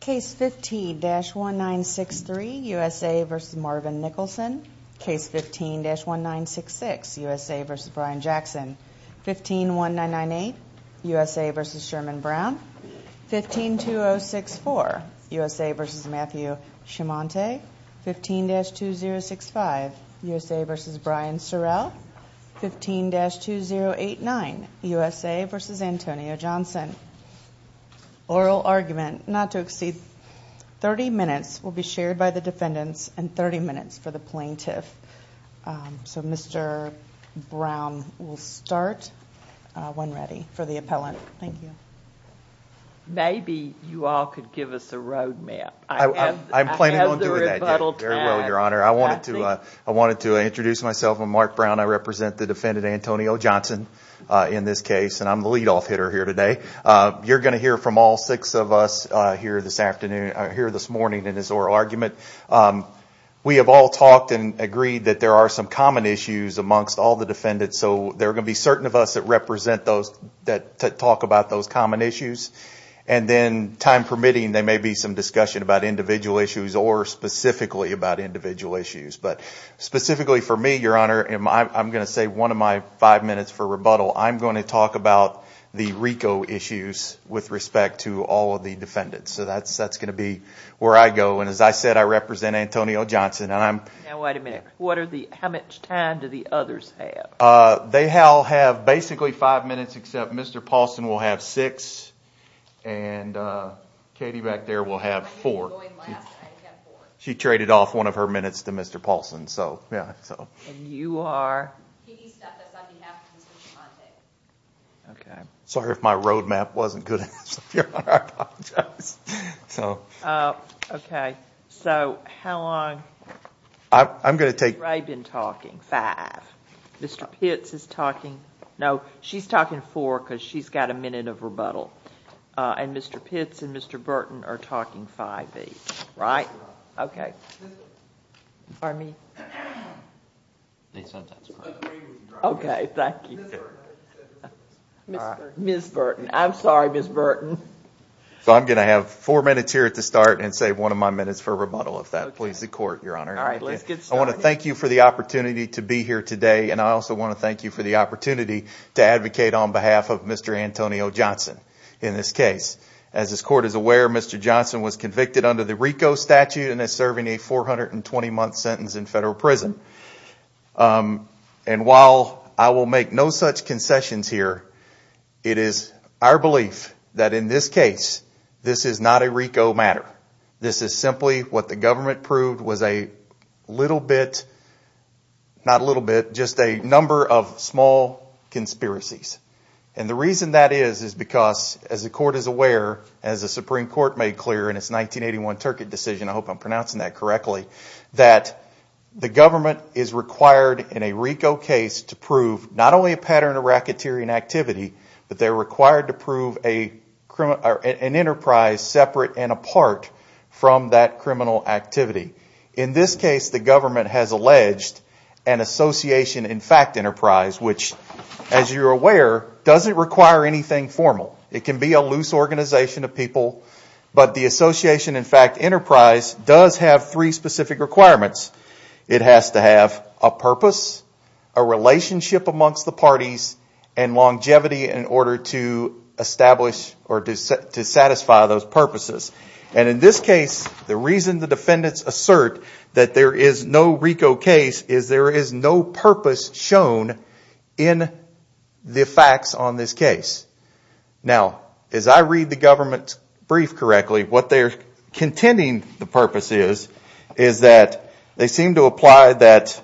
Case 15-1963, USA v. Marvin Nicholson Case 15-1966, USA v. Brian Jackson 15-1998, USA v. Sherman Brown 15-2064, USA v. Matthew Schimonte 15-2065, USA v. Brian Sorrell 15-2089, USA v. Antonio Johnson Oral argument not to exceed 30 minutes will be shared by the defendants and 30 minutes for the plaintiff. So Mr. Brown will start when ready for the appellant. Thank you. Maybe you all could give us a road map. I have the rebuttal tab. Very well, Your Honor. I wanted to introduce myself. I'm Mark Brown. I represent the defendant Antonio Johnson in this case, and I'm the lead-off hitter here today. You're going to hear from all six of us here this morning in this oral argument. We have all talked and agreed that there are some common issues amongst all the defendants. So there are going to be certain of us that talk about those common issues. And then, time permitting, there may be some discussion about individual issues or specifically about individual issues. But specifically for me, Your Honor, I'm going to say one of my five minutes for rebuttal. I'm going to talk about the RICO issues with respect to all of the defendants. So that's going to be where I go. And as I said, I represent Antonio Johnson. Now, wait a minute. How much time do the others have? They have basically five minutes, except Mr. Paulson will have six and Katie back there will have four. She traded off one of her minutes to Mr. Paulson. Sorry if my road map wasn't good, Your Honor. I apologize. Okay. So how long? I've been talking. Five. Mr. Pitts is talking. No, she's talking four because she's got a minute of rebuttal. And Mr. Pitts and Mr. Burton are talking five each. Right? Okay. Okay. Thank you. Ms. Burton. I'm sorry, Ms. Burton. So I'm going to have four minutes here at the start and save one of my minutes for rebuttal, if that pleases the Court, Your Honor. I want to thank you for the opportunity to be here today and I also want to thank you for the opportunity to advocate on behalf of Mr. Antonio Johnson in this case. As this Court is aware, Mr. Johnson was convicted under the RICO statute and is serving a 420-month sentence in federal prison. And while I will make no such concessions here, it is our belief that in this case, this is not a RICO matter. This is simply what the government proved was a little bit, not a little bit, just a number of small conspiracies. And the reason that is, is because as the Court is aware, as the Supreme Court made clear in its 1981 Turkett decision, I hope I'm pronouncing that correctly, that the government is required in a RICO case to prove not only a pattern of racketeering activity, but they're required to prove an enterprise separate and apart from that criminal activity. In this case, the government has alleged an association in fact enterprise, which as you're aware, doesn't require anything formal. It can be a loose organization of people, but the association in fact enterprise does have three specific requirements. It has to have a purpose, a relationship amongst the parties, and longevity in order to establish or to satisfy those purposes. And in this case, the reason the defendants assert that there is no RICO case is there is no purpose shown in the facts on this case. Now, as I read the government's brief correctly, what they're contending the purpose is, is that they seem to apply that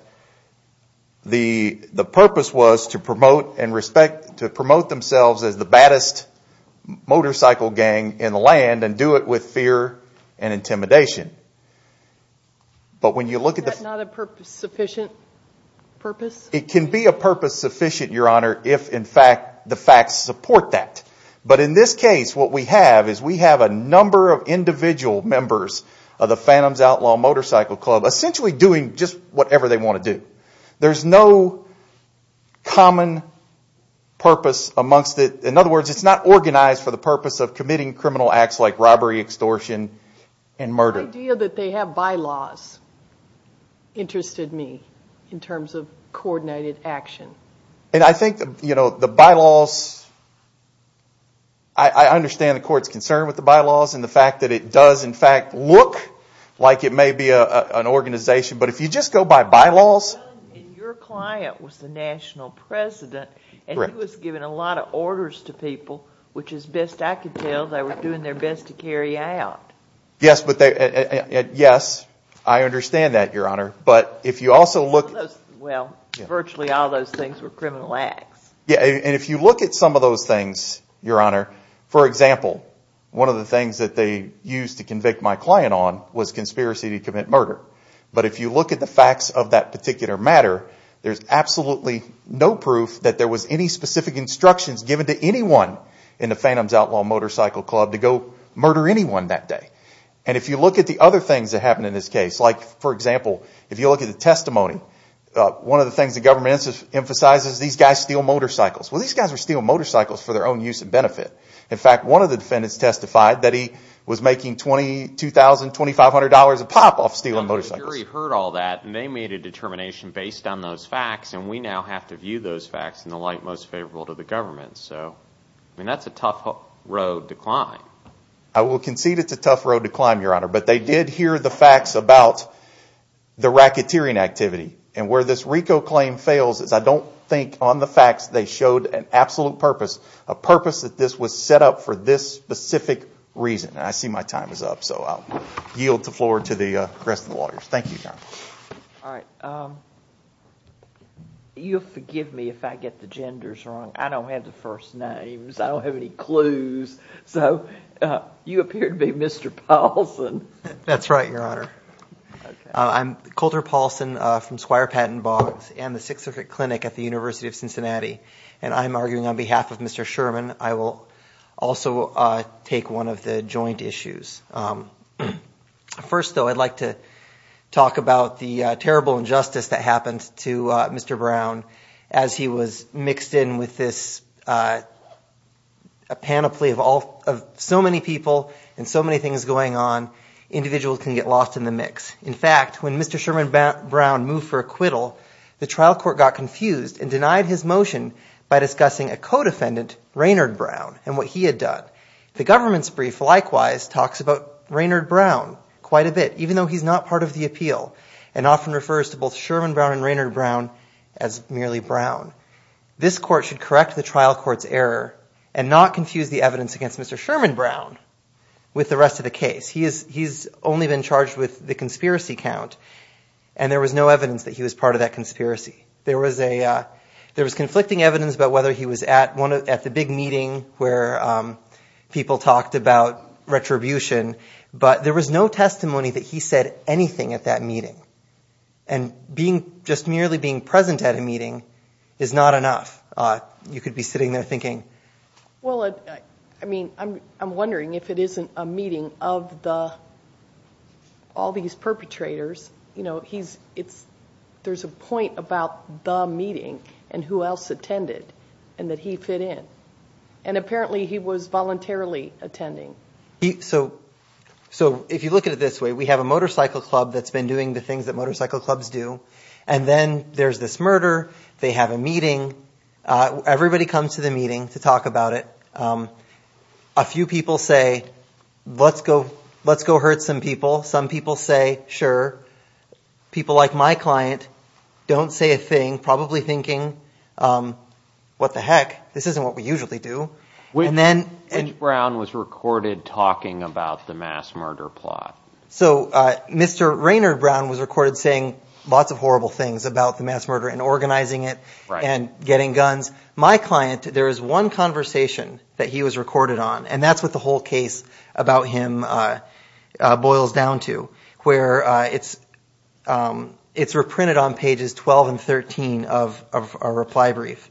the purpose was to promote an enterprise and respect, to promote themselves as the baddest motorcycle gang in the land and do it with fear and intimidation. But when you look at the... It can be a purpose sufficient, Your Honor, if in fact the facts support that. But in this case, what we have is we have a number of individual members of the Phantom's Outlaw Motorcycle Club essentially doing just whatever they want to do. There's no common purpose amongst it. In other words, it's not organized for the purpose of committing criminal acts like robbery, extortion, and murder. The idea that they have bylaws interested me in terms of coordinated action. And I think, you know, the bylaws... I understand the court's concern with the bylaws and the fact that it does in fact look like it may be an organization, but if you just go by bylaws... Your client was the national president and he was giving a lot of orders to people, which is best I could tell they were doing their best to carry out. Yes, I understand that, Your Honor, but if you also look... Well, virtually all those things were criminal acts. Yes, and if you look at some of those things, Your Honor, for example, one of the things that they used to convict my client on was conspiracy to commit murder. But if you look at the facts of that particular matter, there's absolutely no proof that there was any specific instructions given to anyone in the Phantom's Outlaw Motorcycle Club to go murder anyone that day. And if you look at the other things that happened in this case, like, for example, if you look at the testimony, one of the things the government emphasizes is these guys steal motorcycles. Well, these guys were stealing motorcycles for their own use and benefit. In fact, one of the defendants testified that he was making $22,000, $2,500 a pop off stealing motorcycles. The jury heard all that and they made a determination based on those facts and we now have to view those facts in the light most favorable to the government. I mean, that's a tough road to climb. I will concede it's a tough road to climb, Your Honor, but they did hear the facts about the racketeering activity. And where this RICO claim fails is I don't think on the facts they showed an absolute purpose, a purpose that this was set up for this specific reason. And I see my time is up, so I'll yield the floor to the rest of the lawyers. Thank you, Your Honor. All right. You'll forgive me if I get the genders wrong. I don't have the first names. I don't have any clues. So you appear to be Mr. Paulson. That's right, Your Honor. I'm Colter Paulson from Squire Patton Boggs and the Sixth Circuit Clinic at the University of Cincinnati. And I'm arguing on behalf of Mr. Sherman, I will also take one of the joint issues. First, though, I'd like to talk about the terrible injustice that happened to Mr. Brown as he was mixed in with this panoply of so many people and so many things going on. Individuals can get lost in the mix. In fact, when Mr. Sherman Brown moved for acquittal, the trial court got confused and denied his motion by discussing a co-defendant, Raynard Brown, and what he had done. The government's brief, likewise, talks about Raynard Brown quite a bit, even though he's not part of the appeal and often refers to both Sherman Brown and Raynard Brown as merely Brown. This court should correct the trial court's error and not confuse the evidence against Mr. Sherman Brown with the rest of the case. He's only been charged with the conspiracy count, and there was no evidence that he was part of that conspiracy. There was conflicting evidence about whether he was at the big meeting where people talked about retribution, but there was no testimony that he said anything at that meeting. And just merely being present at a meeting is not enough. You could be sitting there thinking, well, I mean, I'm wondering if it isn't a meeting of all these perpetrators. There's a point about the meeting and who else attended and that he fit in, and apparently he was voluntarily attending. So if you look at it this way, we have a motorcycle club that's been doing the things that motorcycle clubs do, and then there's this murder. They have a meeting. Everybody comes to the meeting to talk about it. A few people say, let's go hurt some people. Some people say, sure. People like my client don't say a thing, probably thinking, what the heck, this isn't what we usually do. Which Brown was recorded talking about the mass murder plot? So Mr. Raynard Brown was recorded saying lots of horrible things about the mass murder and organizing it and getting guns. My client, there is one conversation that he was recorded on, and that's what the whole case about him boils down to, where it's reprinted on pages 12 and 13 of a reply brief,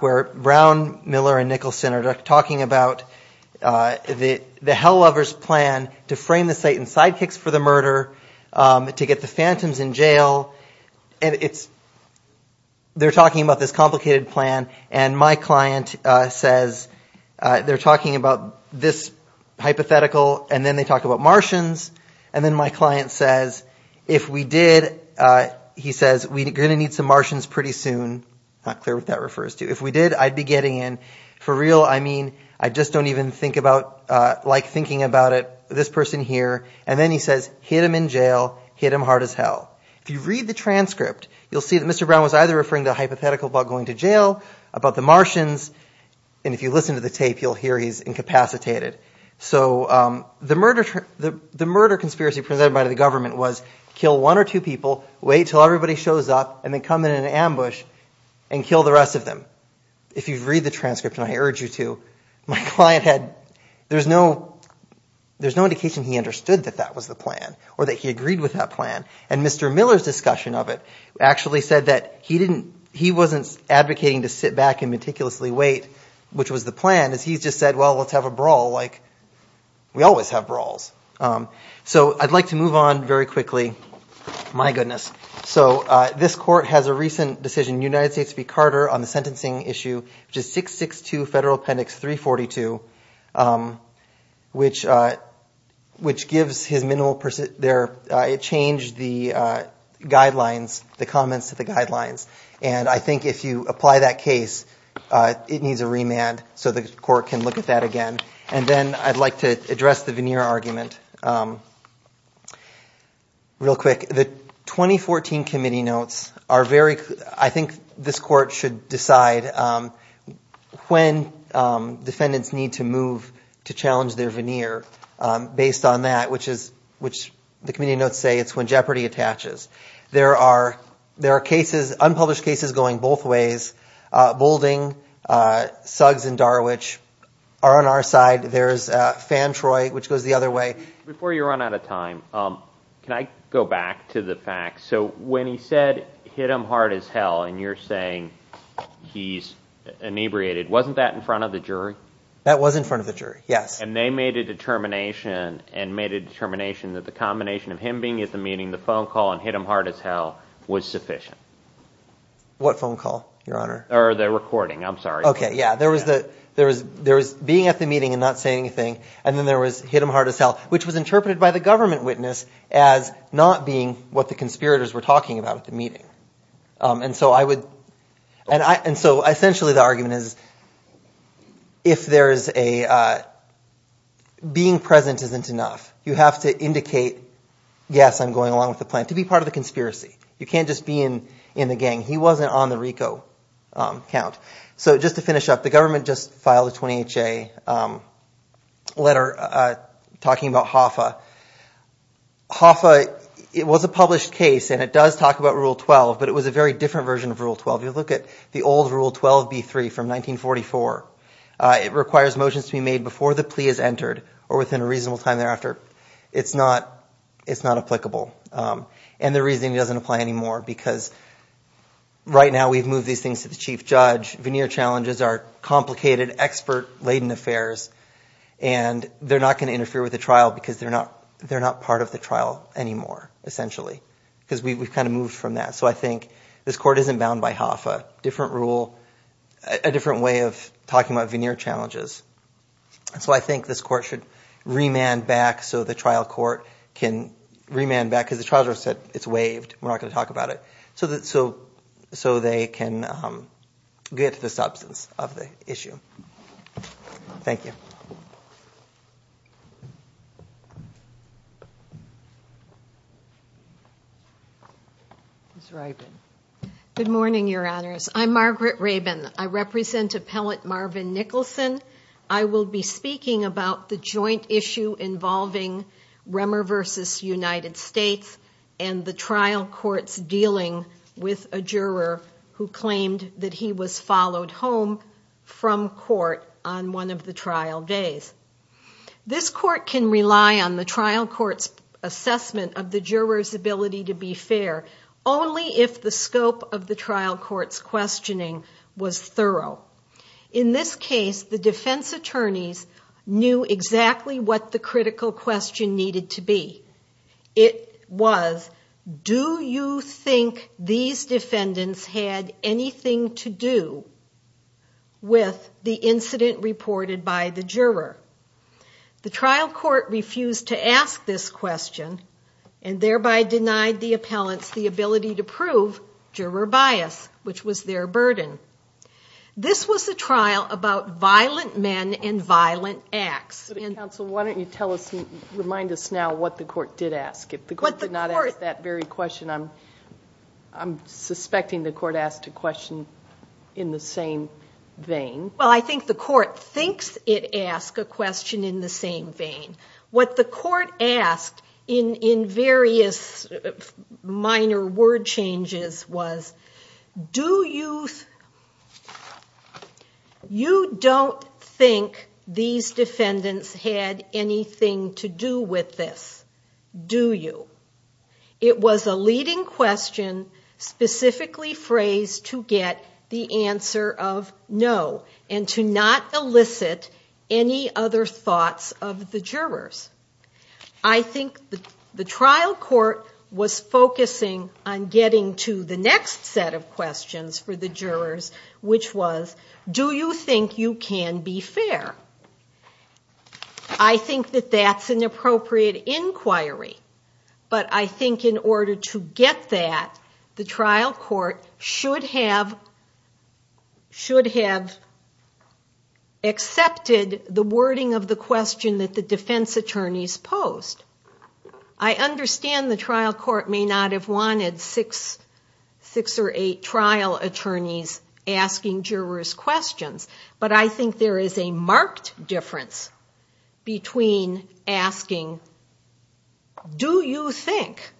where Brown, Miller, and Nicholson are talking about the Hell Lovers plan to frame the Satan sidekicks for the murder, to get the phantoms in jail. They're talking about this complicated plan, and my client says, they're talking about this hypothetical, and then they talk about Martians, and then my client says, if we did, he says, we're going to need some Martians pretty soon. Not clear what that refers to. If we did, I'd be getting in. For real, I mean, I just don't even like thinking about it, this person here, and then he says, hit him in jail, hit him hard as hell. If you read the transcript, you'll see that Mr. Brown was either referring to a hypothetical about going to jail, about the Martians, and if you listen to the tape, you'll hear he's incapacitated. So the murder conspiracy presented by the government was, kill one or two people, wait until everybody shows up, and then come in an ambush, and kill the rest of them. If you read the transcript, and I urge you to, my client had, there's no indication he understood that that was the plan, or that he agreed with that plan. And Mr. Miller's discussion of it actually said that he wasn't advocating to sit back and meticulously wait, which was the plan, as he just said, well, let's have a brawl, like we always have brawls. So I'd like to move on very quickly. My goodness. So this court has a recent decision in the United States v. Carter on the sentencing issue, which is 662 Federal Appendix 342, which gives his minimal, it changed the guidelines, the comments to the guidelines. And I think if you apply that case, it needs a remand so the court can look at that again. And then I'd like to address the veneer argument. Real quick, the 2014 committee notes are very, I think this court should decide when defendants need to move to challenge their veneer, based on that, which the committee notes say it's when jeopardy attaches. There are cases, unpublished cases going both ways. Boulding, Suggs and Darwich are on our side. There's Fan Troy, which goes the other way. Before you run out of time, can I go back to the facts? So when he said, hit him hard as hell, and you're saying he's inebriated, wasn't that in front of the jury? That was in front of the jury, yes. And they made a determination and made a determination that the combination of him being at the meeting, the phone call, and hit him hard as hell was sufficient. What phone call, Your Honor? Or the recording, I'm sorry. Okay, yeah, there was being at the meeting and not saying anything, and then there was hit him hard as hell, which was interpreted by the government witness as not being what the conspirators were talking about at the meeting. And so I would, and so essentially the argument is, if there's a, being present isn't enough. You have to indicate, yes, I'm going along with the plan, to be part of the conspiracy. You can't just be in the gang. He wasn't on the RICO count. So just to finish up, the government just filed a 28-J letter talking about HOFA. HOFA, it was a published case, and it does talk about Rule 12, but it was a very different version of Rule 12. If you look at the old Rule 12b-3 from 1944, it requires motions to be made before the plea is entered or within a reasonable time thereafter. It's not applicable. And the reasoning doesn't apply anymore because right now we've moved these things to the chief judge. Veneer challenges are complicated, expert-laden affairs, and they're not going to interfere with the trial because they're not part of the trial anymore, essentially. Because we've kind of moved from that. So I think this Court isn't bound by HOFA. We have a different rule, a different way of talking about veneer challenges. So I think this Court should remand back so the trial court can remand back because the trial judge said it's waived. We're not going to talk about it, so they can get to the substance of the issue. Thank you. Ms. Rabin. Good morning, Your Honors. I'm Margaret Rabin. I represent Appellant Marvin Nicholson. I will be speaking about the joint issue involving Remmer v. United States and the trial court's dealing with a juror who claimed that he was followed home from court on one of the trials. This Court can rely on the trial court's assessment of the juror's ability to be fair only if the scope of the trial court's questioning was thorough. In this case, the defense attorneys knew exactly what the critical question needed to be. It was, do you think these defendants had anything to do with the incident reported by the juror? The trial court refused to ask this question and thereby denied the appellants the ability to prove juror bias, which was their burden. This was a trial about violent men and violent acts. Counsel, why don't you remind us now what the court did ask. I'm suspecting the court asked a question in the same vein. Well, I think the court thinks it asked a question in the same vein. What the court asked in various minor word changes was, do you, you don't think these defendants had anything to do with this, do you? It was a leading question specifically phrased to get the answer of no. And to not elicit any other thoughts of the jurors. I think the trial court was focusing on getting to the next set of questions for the jurors, which was, do you think you can be fair? I think that that's an appropriate inquiry. But I think in order to get that, the trial court should have accepted the wording of the question that the defense attorneys posed. I understand the trial court may not have wanted six or eight trial attorneys asking jurors questions, but I think there is a marked difference between asking the defense attorneys questions and asking, do you think,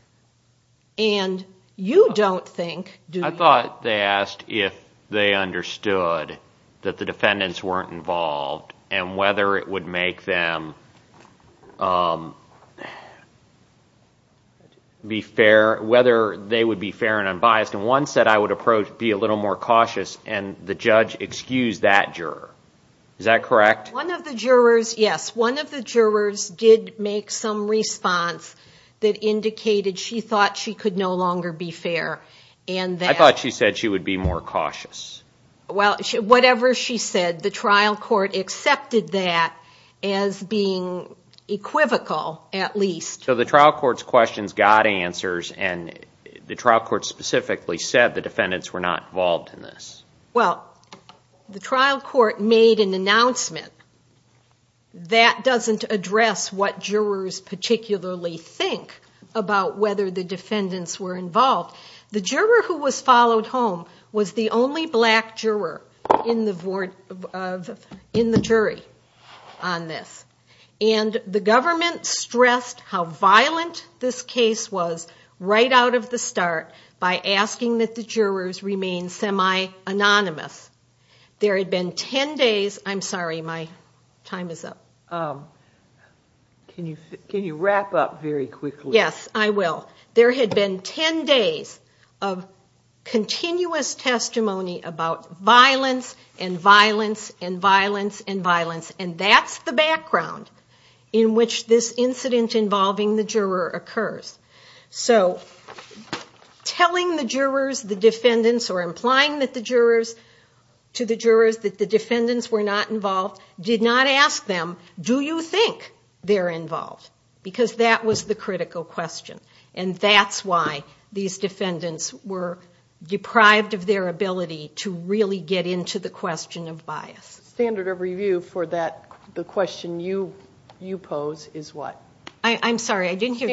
and you don't think, do you? I thought they asked if they understood that the defendants weren't involved and whether it would make them be fair, whether they would be fair and unbiased. And one said I would approach, be a little more cautious, and the judge excused that juror. Is that correct? I thought she said she would be more cautious. Well, whatever she said, the trial court accepted that as being equivocal, at least. So the trial court's questions got answers, and the trial court specifically said the defendants were not involved in this. Well, the trial court made an announcement. That doesn't address what jurors particularly think about whether the defendants were involved. The juror who was followed home was the only black juror in the jury on this. And the government stressed how violent this case was right out of the start by asking that the jurors remain semi-anonymous. There had been 10 days, I'm sorry, my time is up. Can you wrap up very quickly? Yes, I will. There had been 10 days of continuous testimony about violence and violence and violence and violence, and that's the background in which this incident involving the juror occurs. So telling the jurors, the defendants, or implying that the jurors were not involved in this case, to the jurors that the defendants were not involved, did not ask them, do you think they're involved? Because that was the critical question, and that's why these defendants were deprived of their ability to really get into the question of bias. Standard of review for the question you pose is what? I'm sorry, I didn't hear.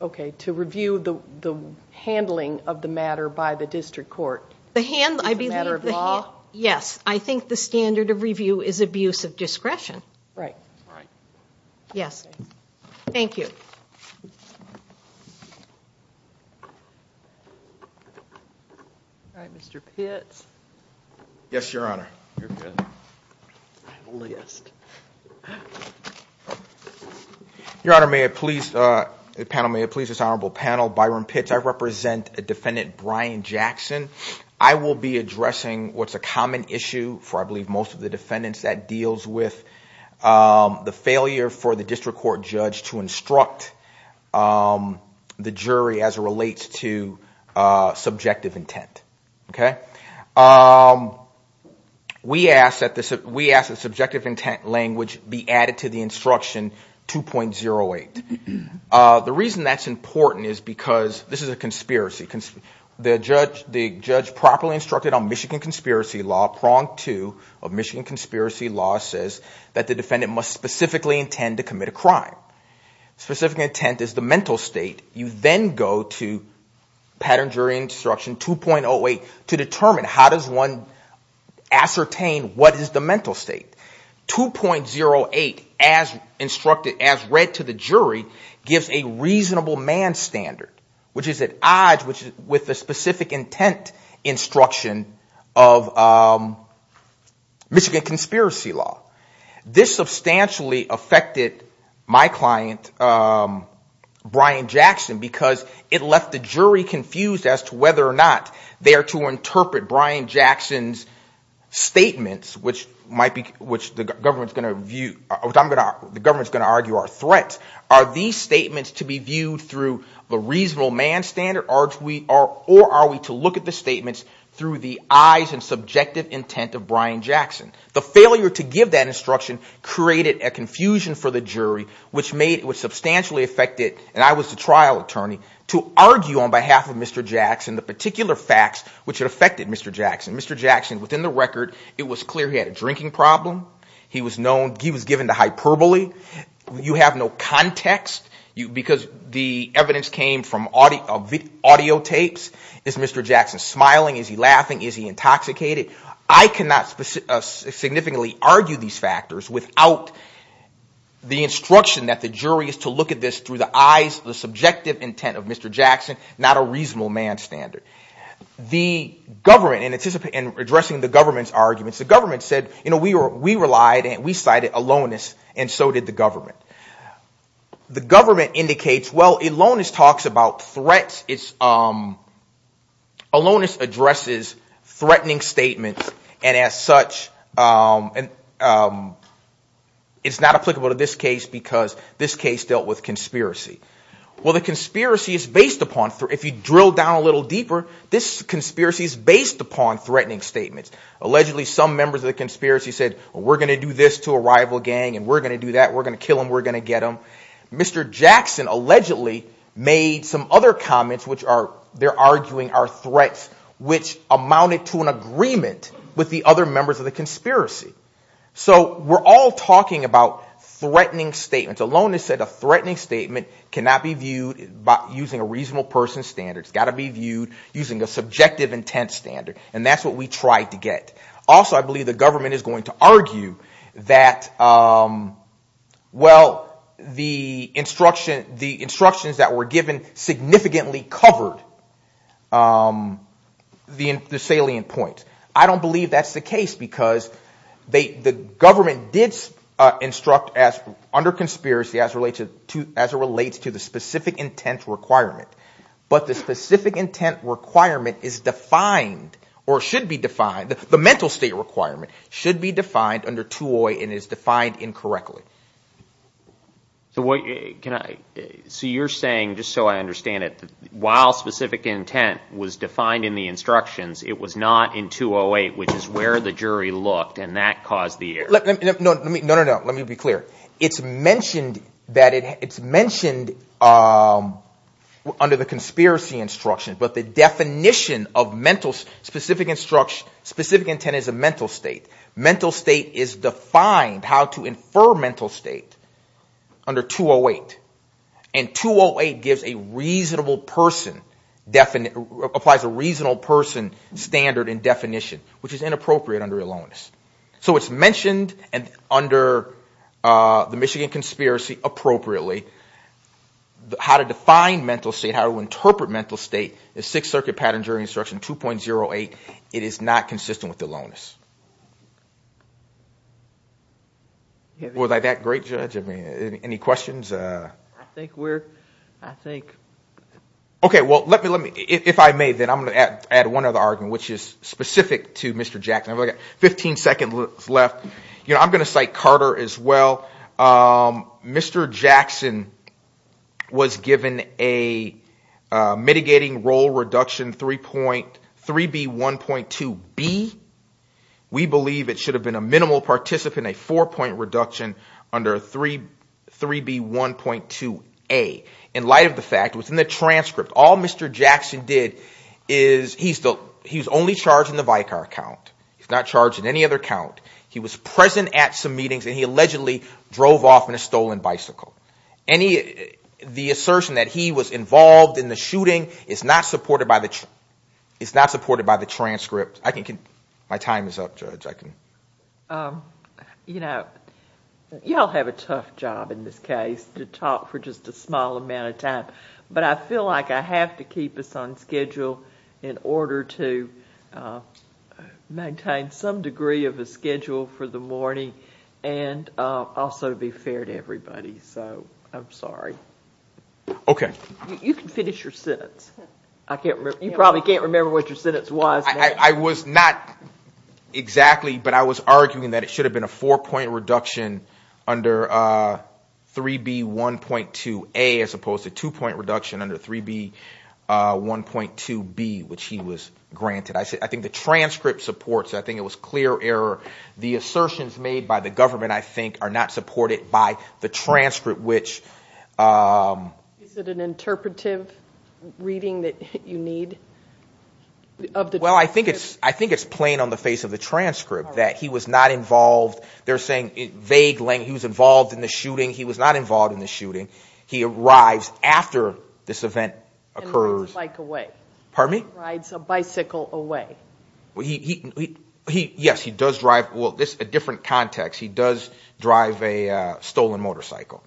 Okay, to review the handling of the matter by the district court. The matter of law? Yes, I think the standard of review is abuse of discretion. Thank you. All right, Mr. Pitts. Yes, your honor. Your honor, may I please, panel may I please, this honorable panel, Byron Pitts, I represent defendant Brian Jackson. I will be addressing what's a common issue for I believe most of the defendants that deals with the failure for the district court judge to instruct the jury as it relates to subjective intent. We ask that subjective intent language be added to the instruction 2.08. The reason that's important is because, this is a conspiracy, the judge properly instructed on Michigan conspiracy law, prong two of Michigan conspiracy law says that the defendant must specifically intend to commit a crime. Specific intent is the mental state. You then go to pattern jury instruction 2.08 to determine how does one ascertain what is the mental state. 2.08 as read to the jury gives a reasonable man standard, which is at odds with the specific intent instruction of Michigan conspiracy law. This substantially affected my client, Brian Jackson, because it left the jury confused as to whether or not they are to interpret Brian Jackson's statements, which the government is going to argue are threats. Are these statements to be viewed through the reasonable man standard or are we to look at the statements through the eyes and subjective intent of Brian Jackson? The failure to give that instruction created a confusion for the jury, which substantially affected, and I was the trial attorney, to argue on behalf of Mr. Jackson the particular facts which had affected Mr. Jackson. Mr. Jackson, within the record, it was clear he had a drinking problem, he was given the hyperbole, you have no context, because the evidence came from audio tapes. Is Mr. Jackson smiling, is he laughing, is he intoxicated? I cannot significantly argue these factors without the instruction that the jury is to look at this through the eyes, the subjective intent of Mr. Jackson, not a reasonable man standard. The government, in addressing the government's arguments, the government said, you know, we relied and we cited aloneness and so did the government. The government indicates, well, aloneness talks about threats, aloneness addresses threatening statements, and as such, it's not applicable to this case because this case dealt with conspiracy. Well, the conspiracy is based upon, if you drill down a little deeper, this conspiracy is based upon threatening statements. Allegedly, some members of the conspiracy said, we're going to do this to a rival gang and we're going to do that, we're going to kill them, we're going to do that. Mr. Jackson allegedly made some other comments, which are, they're arguing, are threats, which amounted to an agreement with the other members of the conspiracy. So we're all talking about threatening statements, aloneness said a threatening statement cannot be viewed using a reasonable person's standard, it's got to be viewed using a subjective intent standard, and that's what we tried to get. Also, I believe the government is going to argue that, well, you know, Mr. Jackson is not a reasonable man. Well, the instructions that were given significantly covered the salient points. I don't believe that's the case because the government did instruct as, under conspiracy, as it relates to the specific intent requirement. But the specific intent requirement is defined, or should be defined, the mental state requirement should be defined under 2OI and is defined incorrectly. So what, can I, so you're saying, just so I understand it, while specific intent was defined in the instructions, it was not in 2OI, which is where the jury looked, and that caused the error. No, no, no, let me be clear. It's mentioned that it, it's mentioned under the conspiracy instruction, but the definition of mental, specific intent is a mental state. Mental state is defined, how to infer mental state, under 2OI, and 2OI gives a reasonable person, applies a reasonable person standard and definition, which is inappropriate under ELONUS. So it's mentioned under the Michigan Conspiracy, appropriately, how to define mental state, how to interpret mental state, the Sixth Circuit Pattern Jury Instruction 2.08, it is not consistent with ELONUS. Was I that great, Judge, I mean, any questions? I think we're, I think. Okay, well, let me, let me, if I may, then I'm going to add one other argument, which is specific to Mr. Jackson, I've only got 15 seconds left, you know, I'm going to cite Carter as well, Mr. Jackson was given a mitigating role reduction 3.3B1.2B. We believe it should have been a minimal participant, a four-point reduction under 3B1.2A. In light of the fact, within the transcript, all Mr. Jackson did is, he's the, he's only charged in the Vicar count, he's not charged in any other count, he was present at some meetings and he allegedly drove off in a stolen bicycle. Any, the assertion that he was involved in the shooting is not supported by the, is not supported by the transcript. I can, my time is up, Judge, I can. You know, you all have a tough job in this case to talk for just a small amount of time, but I feel like I have to keep us on schedule in order to maintain some degree of a schedule for the morning and also be fair to everybody, so I'm sorry. Okay. You can finish your sentence. I can't remember, you probably can't remember what your sentence was. I was not exactly, but I was arguing that it should have been a four-point reduction under 3B1.2A as opposed to two-point reduction under 3B1.2B, which he was granted. I think the transcript supports, I think it was clear error, the assertions made by the government, I think, are not supported by the transcript, which... Is it an interpretive reading that you need of the transcript? Well, I think it's, I think it's plain on the face of the transcript that he was not involved, they're saying vague language, he was involved in the shooting, he was not involved in the shooting, he arrives after this event occurs. And rides a bike away. Pardon me? Rides a bicycle away. Yes, he does drive, well, this is a different context, he does drive a stolen motorcycle.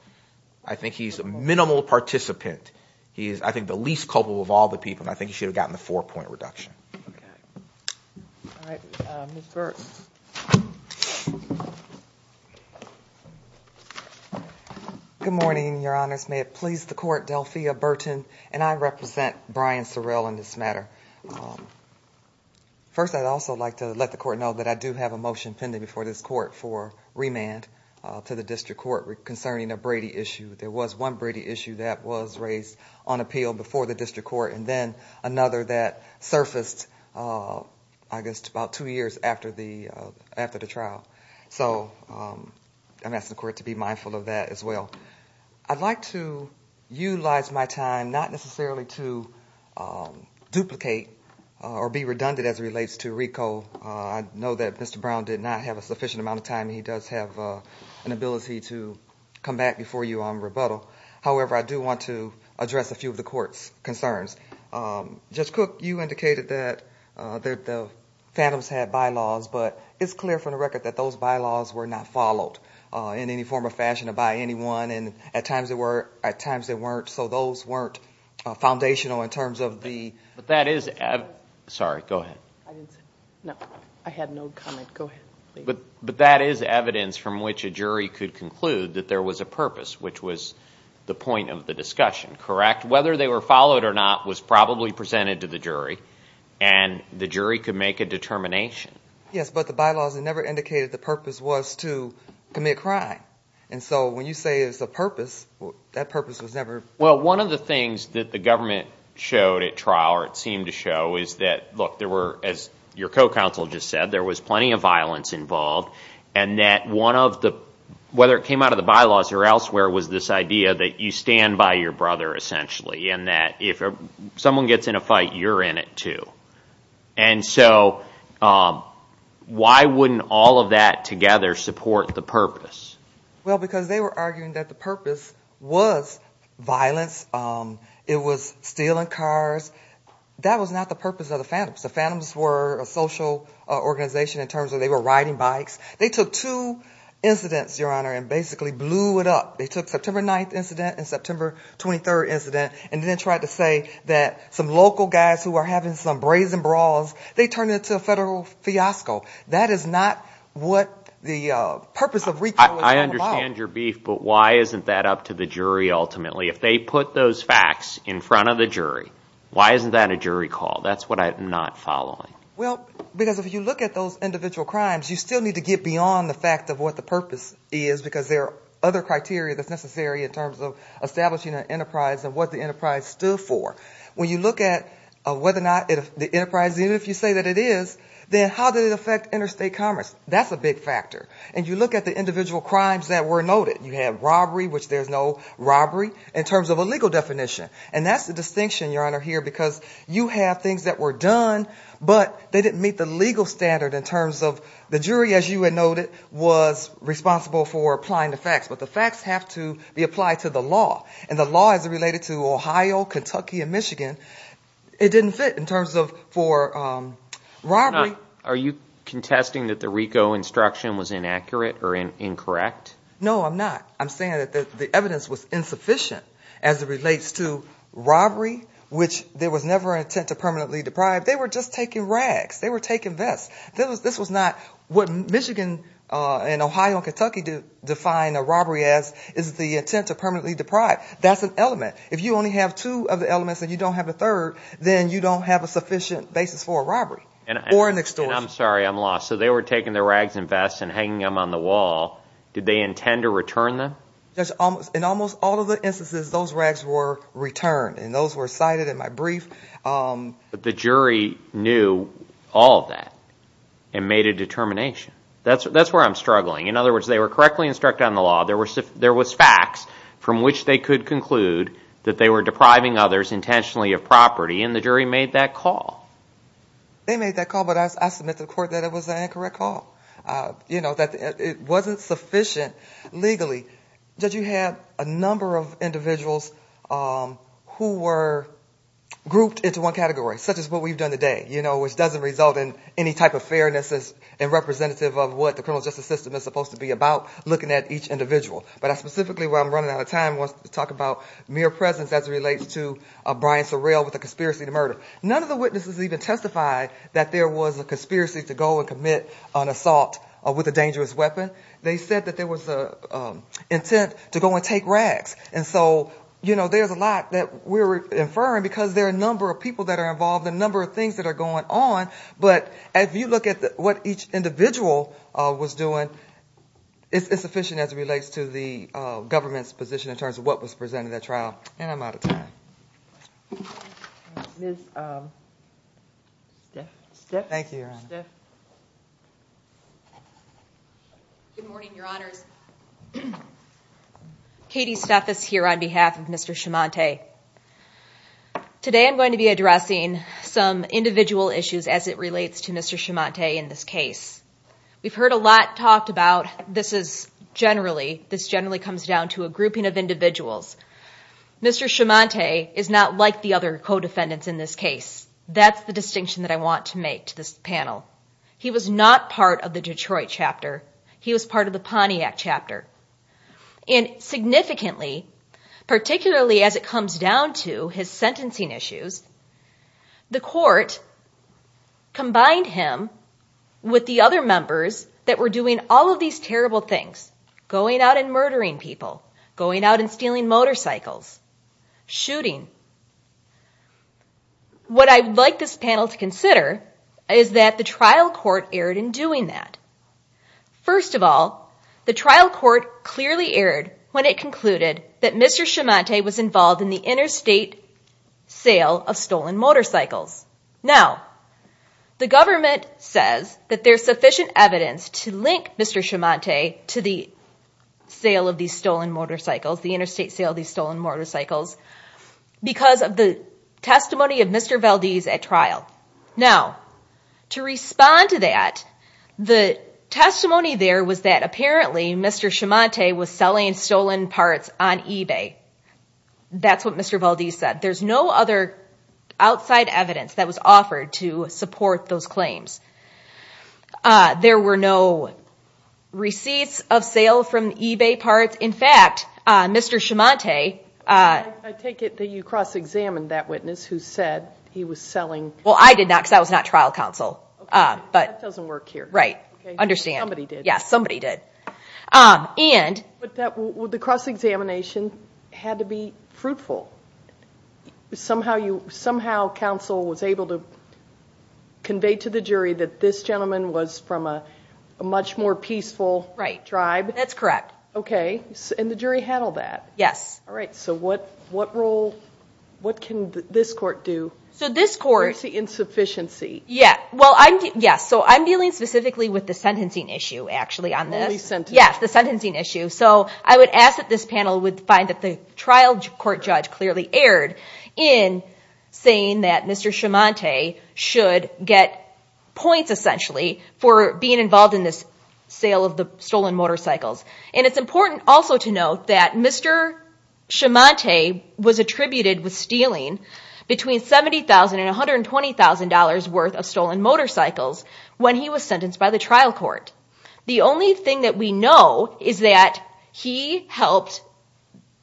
I think he's a minimal participant, he's, I think, the least culpable of all the people, and I think he should have gotten the four-point reduction. All right, Ms. Burton. Good morning, Your Honors, may it please the Court, Delphia Burton, and I represent Brian Sorrell in this matter. First, I'd also like to let the Court know that I do have a motion pending before this Court for remand to the District Court concerning a Brady issue. There was one Brady issue that was raised on appeal before the District Court, and then another that surfaced, I guess, about two years after the trial. So I'm asking the Court to be mindful of that as well. I'd like to utilize my time not necessarily to duplicate or be redundant as it relates to RICO. I know that Mr. Brown did not have a sufficient amount of time, and he does have an ability to come back before you on rebuttal. However, I do want to address a few of the Court's concerns. Judge Cook, you indicated that the Phantoms had bylaws, but it's clear from the record that those bylaws were not followed in any form or fashion by anyone. At times they were, at times they weren't, so those weren't foundational in terms of the... But that is... Sorry, go ahead. But that is evidence from which a jury could conclude that there was a purpose, which was the point of the discussion, correct? Whether they were followed or not was probably presented to the jury, and the jury could make a determination. Yes, but the bylaws never indicated the purpose was to commit crime. And so when you say it's a purpose, that purpose was never... Well, one of the things that the government showed at trial, or it seemed to show, is that, look, there were, as your co-counsel just said, there was plenty of violence involved. And that one of the, whether it came out of the bylaws or elsewhere, was this idea that you stand by your brother essentially, and that if someone gets in a fight, you're in it too. And so why wouldn't all of that together support the purpose? Well, because they were arguing that the purpose was violence, it was stealing cars, that was not the purpose of the phantoms. The phantoms were a social organization in terms of they were riding bikes. They took two incidents, your honor, and basically blew it up. They took September 9th incident and September 23rd incident, and then tried to say that some local guys who are having some brazen brawls, they turned it into a federal fiasco. That is not what the purpose of recall was going to be. I understand your beef, but why isn't that up to the jury ultimately? If they put those facts in front of the jury, why isn't that a jury call? That's what I'm not following. Well, because if you look at those individual crimes, you still need to get beyond the fact of what the purpose is, because there are other criteria that's necessary in terms of establishing an enterprise and what the enterprise stood for. When you look at whether or not the enterprise, even if you say that it is, then how did it affect interstate commerce? That's a big factor. And you look at the individual crimes that were noted. You have robbery, which there's no robbery, in terms of a legal definition. And that's the distinction, your honor, here, because you have things that were done, but they didn't meet the legal standard in terms of the jury, as you had noted, was responsible for applying the facts. But the facts have to be applied to the law. And in Michigan, it didn't fit in terms of for robbery. Are you contesting that the RICO instruction was inaccurate or incorrect? No, I'm not. I'm saying that the evidence was insufficient as it relates to robbery, which there was never an intent to permanently deprive. They were just taking rags. They were taking vests. This was not what Michigan and Ohio and Kentucky define a robbery as, is the intent to permanently deprive. That's an element. If you only have two of the elements and you don't have a third, then you don't have a sufficient basis for a robbery or an extortion. And I'm sorry, I'm lost. So they were taking the rags and vests and hanging them on the wall. Did they intend to return them? In almost all of the instances, those rags were returned. And those were cited in my brief. But the jury knew all of that and made a determination. That's where I'm struggling. In other words, they were correctly instructed on the law. There was facts from which they could conclude that they were depriving others intentionally of property. And the jury made that call. They made that call, but I submit to the court that it was an incorrect call. It wasn't sufficient legally. Did you have a number of individuals who were grouped into one category, such as what we've done today, which doesn't result in any type of fairness and representative of what the criminal justice system is supposed to be about? I'm not looking at each individual, but specifically where I'm running out of time, I want to talk about mere presence as it relates to Brian Sorrell with the conspiracy to murder. None of the witnesses even testified that there was a conspiracy to go and commit an assault with a dangerous weapon. They said that there was an intent to go and take rags. And so, you know, there's a lot that we're inferring because there are a number of people that are involved, a number of things that are going on. But if you look at what each individual was doing, it's sufficient as it relates to the government's position in terms of what was presented at trial. And I'm out of time. Ms. Stiff? Good morning, Your Honors. Katie Stiff is here on behalf of Mr. Schimante. And I'm going to start by talking about how this relates to Mr. Schimante in this case. We've heard a lot talked about this is generally, this generally comes down to a grouping of individuals. Mr. Schimante is not like the other co-defendants in this case. That's the distinction that I want to make to this panel. He was not part of the Detroit chapter. He was part of the Pontiac chapter. And significantly, particularly as it comes down to his sentencing issues, the court combined him with the other members that were doing all of these terrible things. Going out and murdering people, going out and stealing motorcycles, shooting. What I'd like this panel to consider is that the trial court erred in doing that. First of all, the trial court clearly erred when it concluded that Mr. Schimante was involved in the interstate sale of stolen motorcycles. Now, the government says that there's sufficient evidence to link Mr. Schimante to the sale of these stolen motorcycles, the interstate sale of these stolen motorcycles, because of the testimony of Mr. Valdez at trial. Now, to respond to that, the testimony there was that apparently Mr. Schimante was selling stolen parts on eBay. That's what Mr. Valdez said. There's no other outside evidence that was offered to support those claims. There were no receipts of sale from eBay parts. In fact, Mr. Schimante... I take it that you cross-examined that witness who said he was selling... Well, I did not, because that was not trial counsel. That doesn't work here. But the cross-examination had to be fruitful. Somehow counsel was able to convey to the jury that this gentleman was from a much more peaceful tribe? That's correct. And the jury handled that? Yes. All right. So what can this court do against the insufficiency? Yes. So I'm dealing specifically with the sentencing issue, actually, on this. So I would ask that this panel would find that the trial court judge clearly erred in saying that Mr. Schimante should get points, essentially, for being involved in this sale of the stolen motorcycles. And it's important also to note that Mr. Schimante was attributed with stealing between $70,000 and $120,000 worth of stolen motorcycles. When he was sentenced by the trial court. The only thing that we know is that he helped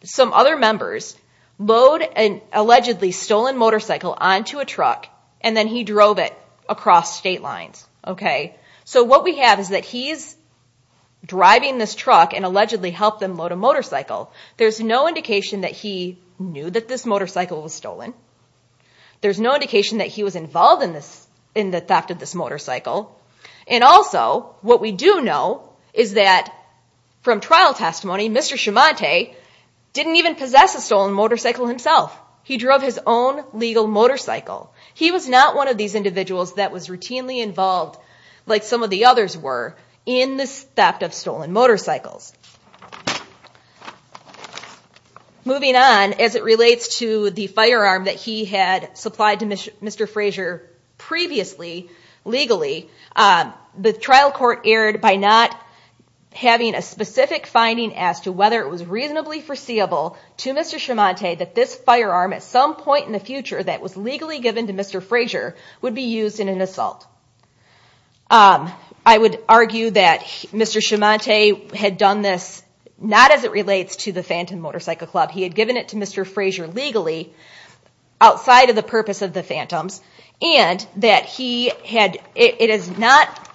some other members load an allegedly stolen motorcycle onto a truck, and then he drove it across state lines. So what we have is that he's driving this truck and allegedly helped them load a motorcycle. There's no indication that he knew that this motorcycle was stolen. There's no indication that he was involved in the theft of this motorcycle. And also, what we do know is that from trial testimony, Mr. Schimante didn't even possess a stolen motorcycle himself. He drove his own legal motorcycle. He was not one of these individuals that was routinely involved, like some of the others were, in the theft of stolen motorcycles. Moving on, as it relates to the firearm that he had supplied to Mr. Frazier previously, legally, the trial court erred by not having a specific finding as to whether it was reasonably foreseeable to Mr. Schimante that this firearm, at some point in the future that was legally given to Mr. Frazier, would be used in an assault. I would argue that Mr. Schimante had done this not as it relates to the Phantom Motorcycle Club. He had given it to Mr. Frazier legally, outside of the purpose of the Phantoms, and that it is not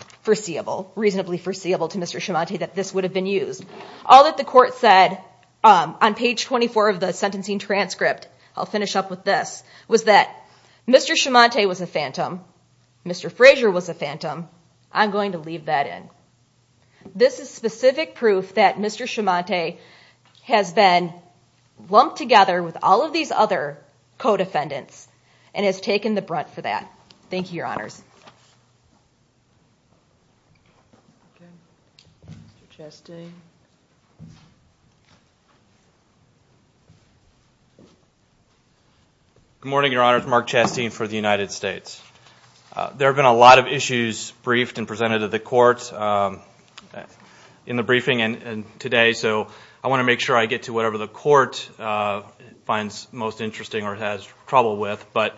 reasonably foreseeable to Mr. Schimante that this would have been used. All that the court said on page 24 of the sentencing transcript, I'll finish up with this, was that Mr. Schimante was a Phantom, Mr. Frazier was a Phantom, I'm going to leave that in. This is specific proof that Mr. Schimante has been lumped together with all of these other co-defendants and has taken the brunt for that. Thank you, Your Honors. Good morning, Your Honors. Mark Chastain for the United States. There have been a lot of issues briefed and presented to the court in the briefing today, so I want to make sure I get to whatever the court finds most interesting or has trouble with. But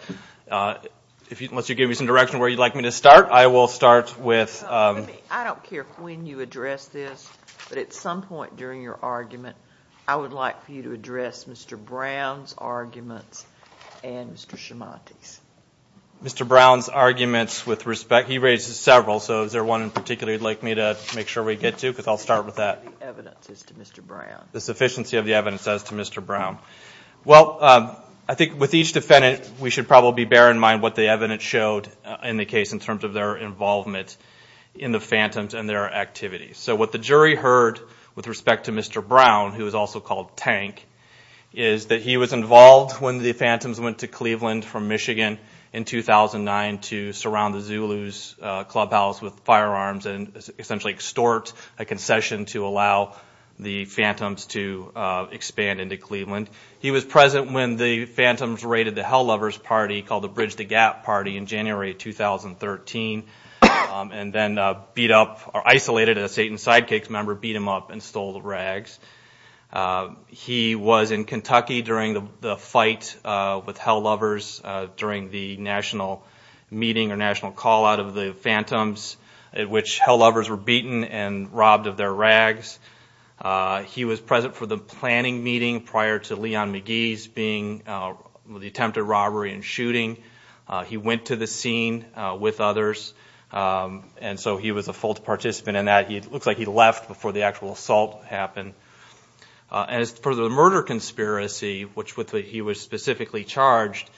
unless you give me some direction where you'd like me to start, I will start with... I don't care when you address this, but at some point during your argument, I would like for you to address Mr. Brown's arguments and Mr. Schimante's. Mr. Brown's arguments with respect... He raises several, so is there one in particular you'd like me to make sure we get to? Because I'll start with that. The sufficiency of the evidence as to Mr. Brown. Well, I think with each defendant, we should probably bear in mind what the evidence showed in the case in terms of their involvement in the Phantoms and their activities. So what the jury heard with respect to Mr. Brown, who was also called Tank, is that he was involved when the Phantoms went to Cleveland from Michigan in 2009 to surround the Zulus clubhouse with firearms and essentially extort a concession to allow the Phantoms to expand into Cleveland. He was present when the Phantoms raided the Hell Lovers party called the Bridge the Gap party in January 2013 and then isolated a Satan Sidekicks member, beat him up and stole the rags. He was in Kentucky during the fight with Hell Lovers during the national meeting or national call out of the Phantoms at which Hell Lovers were beaten and robbed of their rags. He was present for the planning meeting prior to Leon McGee's attempted robbery and shooting. He went to the scene with others and so he was a full participant in that. It looks like he left before the actual assault happened. As for the murder conspiracy, which he was specifically charged,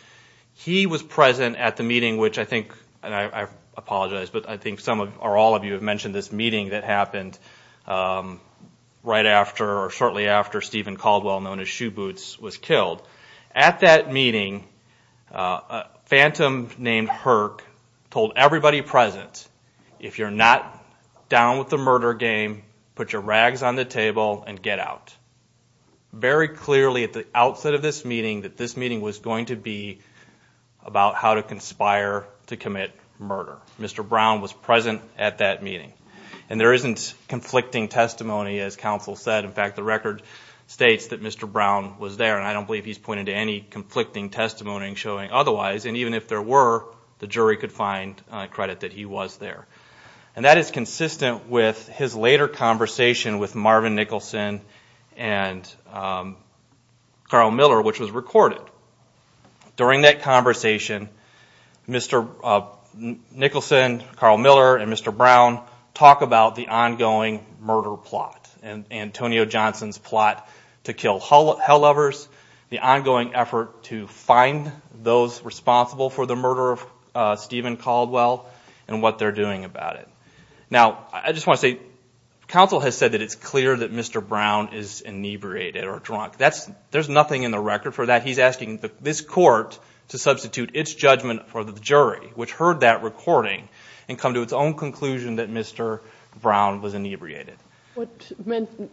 he was present at the meeting which I think, and I apologize, but I think some or all of you have mentioned this meeting that happened right after or shortly after Stephen Caldwell, known as Shoe Boots, was killed. At that meeting, a Phantom named Herc told everybody present, if you're not down with the murder game, put your rags on the table and get out. Very clearly at the outset of this meeting that this meeting was going to be about how to conspire to commit murder. Mr. Brown was present at that meeting. There isn't conflicting testimony, as counsel said. In fact, the record states that Mr. Brown was there and I don't believe he's pointed to any conflicting testimony showing otherwise. Even if there were, the jury could find credit that he was there. That is consistent with his later conversation with Marvin Nicholson and Carl Miller, which was recorded. During that conversation, Mr. Nicholson, Carl Miller, and Mr. Brown were both present. They talked about the ongoing murder plot, Antonio Johnson's plot to kill hell lovers, the ongoing effort to find those responsible for the murder of Stephen Caldwell, and what they're doing about it. Now, I just want to say, counsel has said that it's clear that Mr. Brown is inebriated or drunk. There's nothing in the record for that. He's asking this court to substitute its judgment for the jury, which heard that recording, and come to its own conclusion that Mr. Brown was inebriated.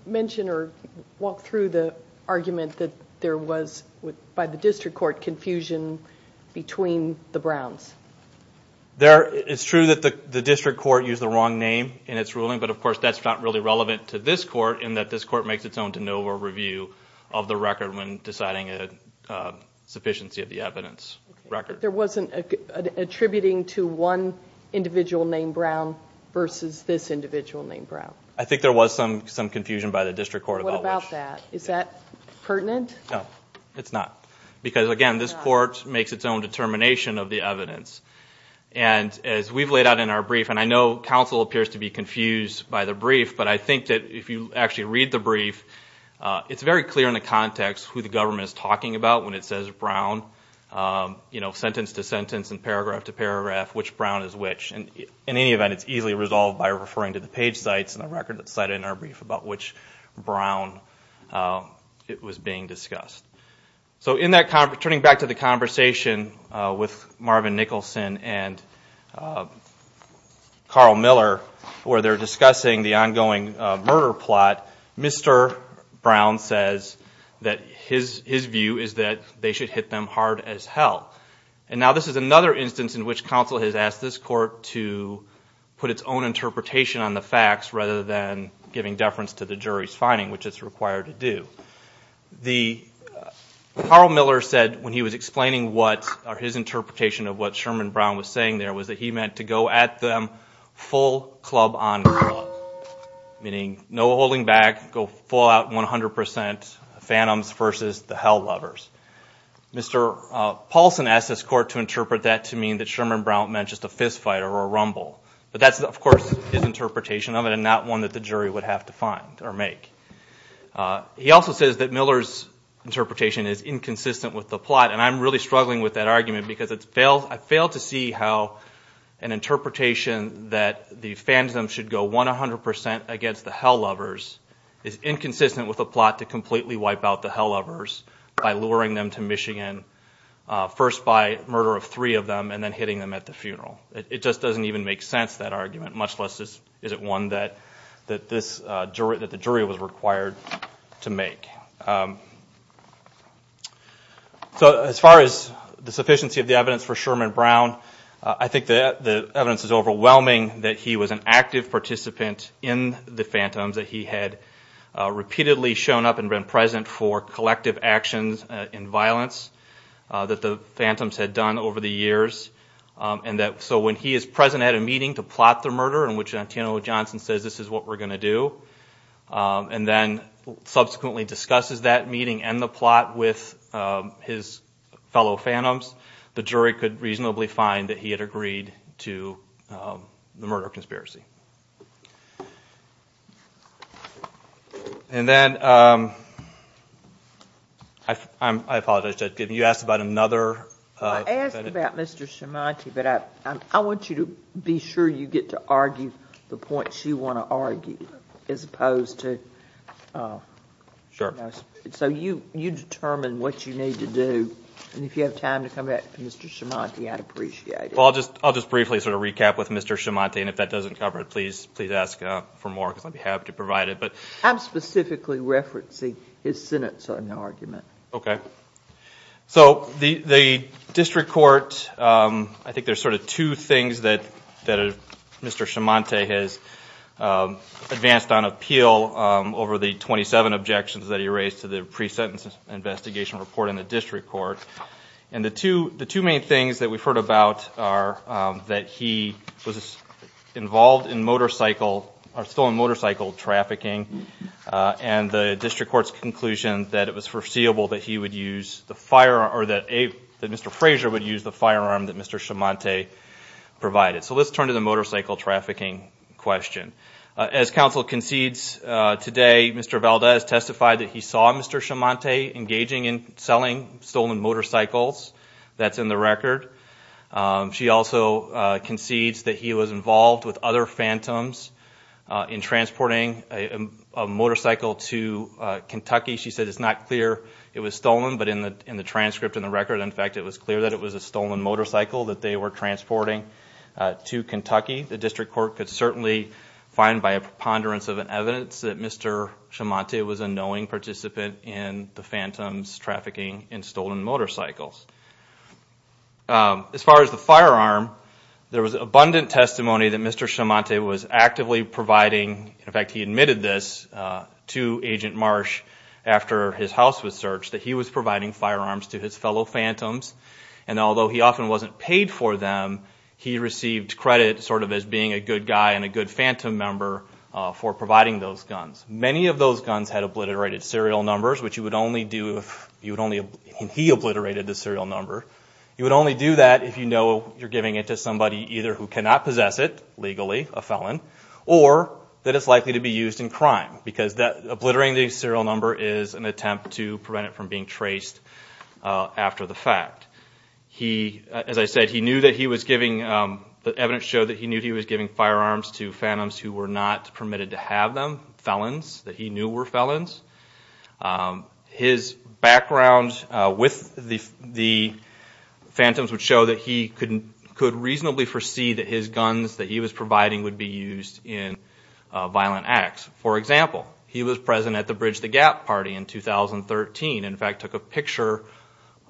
Mention or walk through the argument that there was, by the district court, confusion between the Browns. It's true that the district court used the wrong name in its ruling, but of course that's not really relevant to this court in that this court makes its own de novo review of the record when deciding a sufficiency of the evidence record. There wasn't attributing to one individual named Brown versus this individual named Brown. I think there was some confusion by the district court about that. What about that? Is that pertinent? No, it's not, because again, this court makes its own determination of the evidence. As we've laid out in our brief, and I know counsel appears to be confused by the brief, it's very clear in the context who the government is talking about when it says Brown. Sentence to sentence and paragraph to paragraph, which Brown is which. In any event, it's easily resolved by referring to the page sites and the record cited in our brief about which Brown it was being discussed. Turning back to the conversation with Marvin Nicholson and Carl Miller, where they're discussing the ongoing murder plot, Mr. Brown says that his view is that they should hit them hard as hell. Now this is another instance in which counsel has asked this court to put its own interpretation on the facts rather than giving deference to the jury's finding, which it's required to do. Carl Miller said when he was explaining his interpretation of what Sherman Brown was saying there was that he meant to go at them full club on club. Meaning no holding back, go full out 100% phantoms versus the hell lovers. Mr. Paulson asked this court to interpret that to mean that Sherman Brown meant just a fist fight or a rumble. But that's of course his interpretation of it and not one that the jury would have to find or make. He also says that Miller's interpretation is inconsistent with the plot, and I'm really struggling with that argument because I fail to see how an interpretation that the phantoms should go 100% against the hell lovers is inconsistent with a plot to completely wipe out the hell lovers by luring them to Michigan first by murder of three of them and then hitting them at the funeral. It just doesn't even make sense, that argument, much less is it one that the jury was required to make. So as far as the sufficiency of the evidence for Sherman Brown, I think the evidence is overwhelming that he was an active participant in the phantoms, that he had repeatedly shown up and been present for collective actions in violence that the phantoms had done over the years. So when he is present at a meeting to plot the murder, in which Antiono Johnson says this is what we're going to do, and then subsequently discusses that meeting and the plot with his fellow phantoms, the jury could reasonably find that he had agreed to the murder conspiracy. And then, I apologize, Judge Gidney, you asked about another... I asked about Mr. Schimonti, but I want you to be sure you get to argue the points you want to argue, as opposed to... So you determine what you need to do, and if you have time to come back to Mr. Schimonti, I'd appreciate it. Well, I'll just briefly sort of recap with Mr. Schimonti, and if that doesn't cover it, please ask for more, because I'd be happy to provide it. I'm specifically referencing his sentencing argument. Okay. So the district court, I think there's sort of two things that Mr. Schimonti has advanced on appeal over the 27 objections that he raised to the pre-sentence investigation report in the district court. And the two main things that we've heard about are that he was involved in motorcycle, or stolen motorcycle trafficking, and the district court's conclusion that it was foreseeable that Mr. Frazier would use the firearm that Mr. Schimonti provided. So let's turn to the motorcycle trafficking question. As counsel concedes today, Mr. Valdez testified that he saw Mr. Schimonti engaging in selling stolen motorcycles. That's in the record. She also concedes that he was involved with other phantoms in transporting a motorcycle to Kentucky. She said it's not clear it was stolen, but in the transcript and the record, in fact, it was clear that it was a stolen motorcycle that they were transporting to Kentucky. The district court could certainly find by a preponderance of evidence that Mr. Schimonti was a knowing participant in the phantoms trafficking in stolen motorcycles. As far as the firearm, there was abundant testimony that Mr. Schimonti was actively providing, in fact, he admitted this to Agent Marsh after his house was searched, that he was providing firearms to his fellow phantoms, and although he often wasn't paid for them, he received credit sort of as being a good guy and a good phantom member for providing those guns. Many of those guns had obliterated serial numbers, which you would only do if he obliterated the serial number. You would only do that if you know you're giving it to somebody either who cannot possess it legally, a felon, or that it's likely to be used in crime, because obliterating the serial number is an attempt to prevent it from being traced after the fact. As I said, the evidence showed that he knew he was giving firearms to phantoms who were not permitted to have them, felons, that he knew were felons. His background with the phantoms would show that he could reasonably foresee that his guns that he was providing would be used in violent acts. For example, he was present at the Bridge the Gap party in 2013, and in fact took a picture,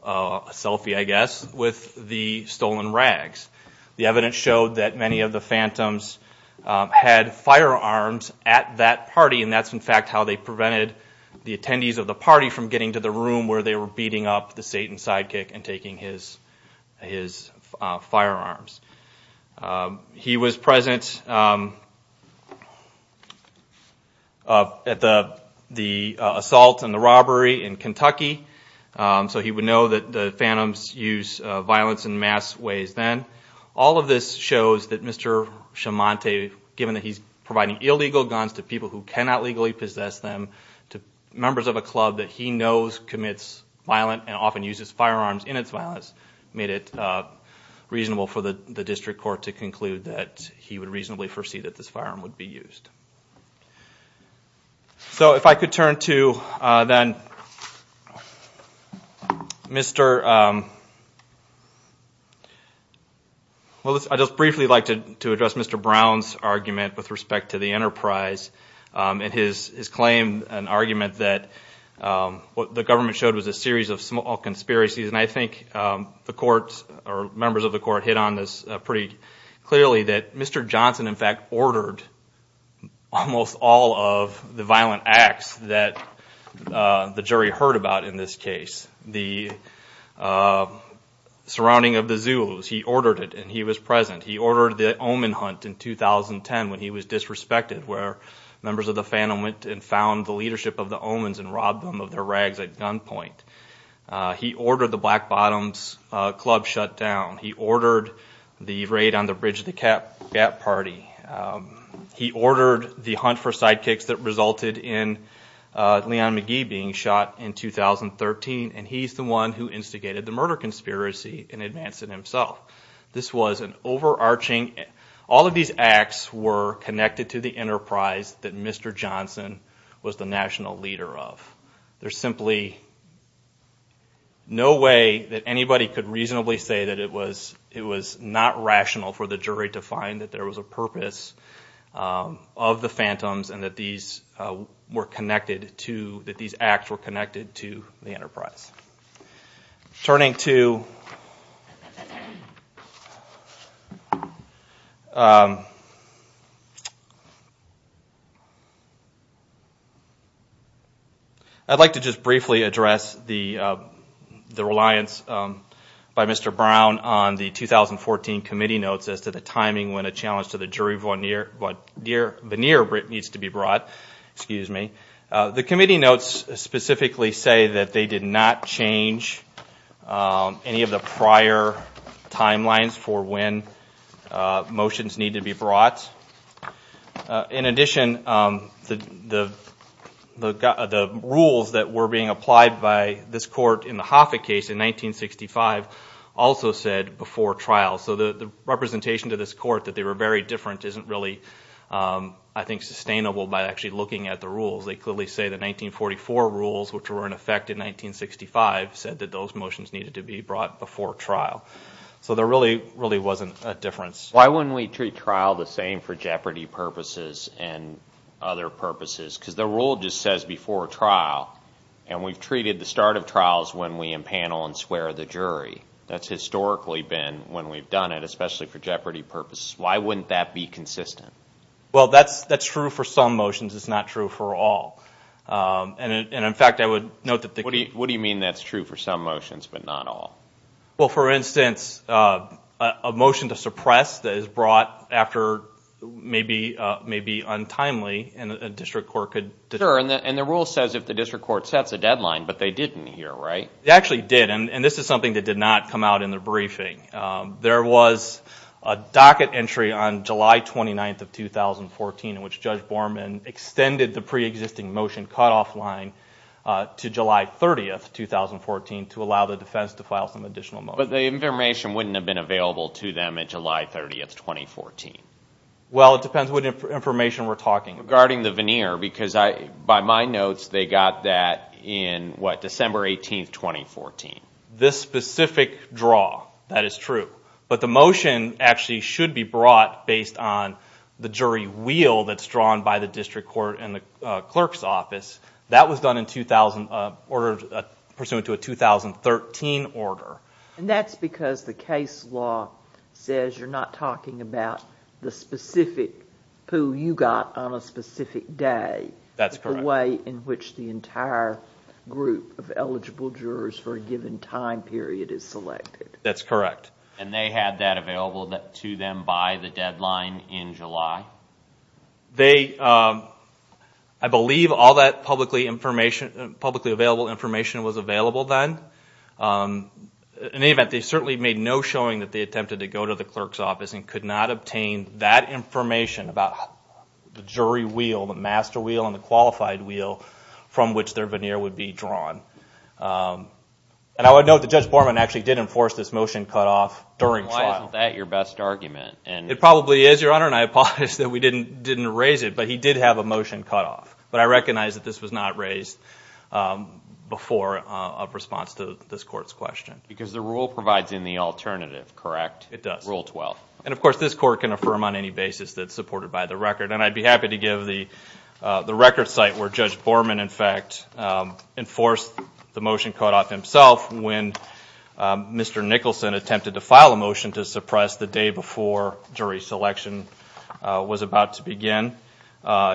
a selfie I guess, with the stolen rags. The evidence showed that many of the phantoms had firearms at that party, and that's in fact how they prevented the attendees of the party from getting to the room where they were beating up the Satan sidekick and taking his firearms. He was present at the assault and the robbery in Kentucky, so he would know that the phantoms used violence in mass ways then. All of this shows that Mr. Chiamonte, given that he's providing illegal guns to people who cannot legally possess them, to members of a club that he knows commits violence and often uses firearms in its violence, made it reasonable for the district court to conclude that he would reasonably foresee that this firearm would be used. So if I could turn to then Mr. I'd just briefly like to address Mr. Brown's argument with respect to the enterprise and his claim, an argument that the government showed was a series of small conspiracies, and I think the members of the court hit on this pretty clearly, that Mr. Johnson in fact ordered almost all of the violent acts that the jury heard about in this case. The surrounding of the Zulus, he ordered it and he was present. He ordered the omen hunt in 2010 when he was disrespected, where members of the phantom went and found the leadership of the omens and robbed them of their rags at gunpoint. He ordered the Black Bottoms Club shut down. He ordered the raid on the Bridge of the Gap party. He ordered the hunt for sidekicks that resulted in Leon McGee being shot in 2013, and he's the one who instigated the murder conspiracy and advanced it himself. This was an overarching, all of these acts were connected to the enterprise that Mr. Johnson was the national leader of. There's simply no way that anybody could reasonably say that it was not rational for the jury to find that there was a purpose of the phantoms and that these acts were connected to the enterprise. Turning to... I'd like to just briefly address the reliance by Mr. Brown on the 2014 committee notes as to the timing when a challenge to the jury veneer needs to be brought. The committee notes specifically say that they did not change any of the prior timelines for when motions need to be brought. In addition, the rules that were being applied by this court in the Hoffa case in 1965 also said before trial. So the representation to this court that they were very different isn't really, I think, sustainable by actually looking at the rules. They clearly say the 1944 rules, which were in effect in 1965, said that those motions needed to be brought before trial. So there really wasn't a difference. Why wouldn't we treat trial the same for jeopardy purposes and other purposes? Because the rule just says before trial and we've treated the start of trials the same for jeopardy purposes. Why wouldn't that be consistent? Well, that's true for some motions. It's not true for all. What do you mean that's true for some motions but not all? Well, for instance, a motion to suppress that is brought after maybe untimely and a district court could determine that. Sure, and the rule says if the district court sets a deadline, but they didn't here, right? They actually did, and this is something that did not come out in the briefing. There was a docket entry on July 29th of 2014 in which Judge Borman extended the preexisting motion cutoff line to July 30th, 2014 to allow the defense to file some additional motions. But the information wouldn't have been available to them at July 30th, 2014. Well, it depends what information we're talking about. Regarding the veneer, because by my notes they got that in December 18th, 2014. This specific draw, that is true, but the motion actually should be brought based on the jury wheel that's drawn by the district court and the clerk's office. That was done in order pursuant to a 2013 order. And that's because the case law says you're not talking about the specific pool you got on a specific day. That's correct. The way in which the entire group of eligible jurors for a given time period is selected. That's correct. And they had that available to them by the deadline in July? I believe all that publicly available information was available then. In any event, they certainly made no showing that they attempted to go to the clerk's office and could not obtain that information about the jury wheel, the master wheel and the qualified wheel from which their veneer would be drawn. And I would note that Judge Borman actually did enforce this motion cutoff during trial. Why isn't that your best argument? It probably is, Your Honor, and I apologize that we didn't raise it, but he did have a motion cutoff. But I recognize that this was not raised before a response to this Court's question. Because the rule provides in the alternative, correct? It does. And of course this Court can affirm on any basis that it's supported by the record. And I'd be happy to give the record site where Judge Borman in fact enforced the motion cutoff himself when Mr. Nicholson attempted to file a motion to suppress the day before jury selection was about to begin.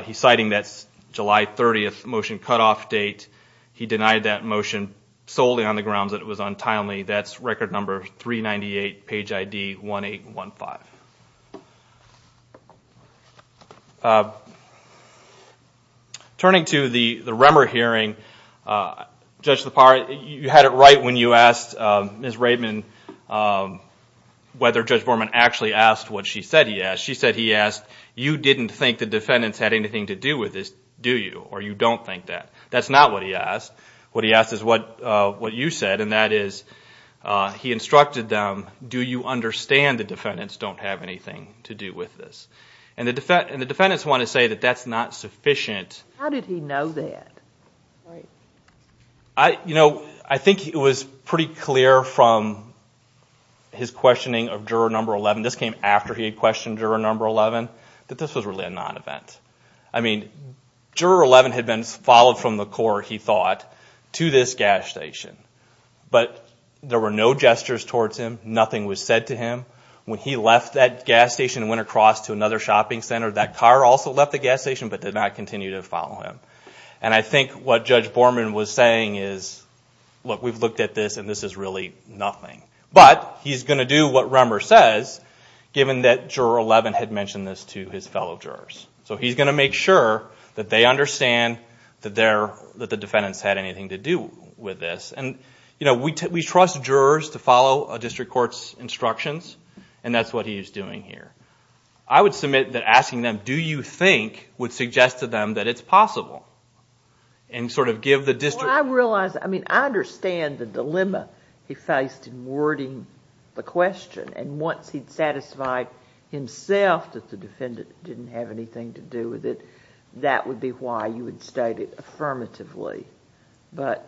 He's citing that July 30th motion cutoff date. He denied that motion solely on the grounds that it was untimely. That's record number 398, page ID 1815. Turning to the Remmer hearing, Judge Lepar, you had it right when you asked Ms. Raymond whether Judge Borman actually asked what she said he asked. She said he asked, you didn't think the defendants had anything to do with this, do you? Or you don't think that? That's not what he asked. What he asked is what you said, and that is, he instructed them, do you understand the defendants don't have anything to do with this? And the defendants want to say that that's not sufficient. How did he know that? I think it was pretty clear from his questioning of juror number 11, this came after he had questioned juror number 11, that this was really a non-event. Juror 11 had been followed from the court, he thought, to this gas station. But there were no gestures towards him, nothing was said to him. When he left that gas station and went across to another shopping center, that car also left the gas station but did not continue to follow him. And I think what Judge Borman was saying is, look, we've looked at this and this is really nothing. But he's going to do what Remmer says, given that juror 11 had mentioned this to his fellow jurors. So he's going to make sure that they understand that the defendants had anything to do with this. We trust jurors to follow a district court's instructions, and that's what he's doing here. I would submit that asking them, do you think, would suggest to them that it's possible. And sort of give the district... I understand the dilemma he faced in wording the question. And once he'd satisfied himself that the defendant didn't have anything to do with it, that would be why you would state it affirmatively. But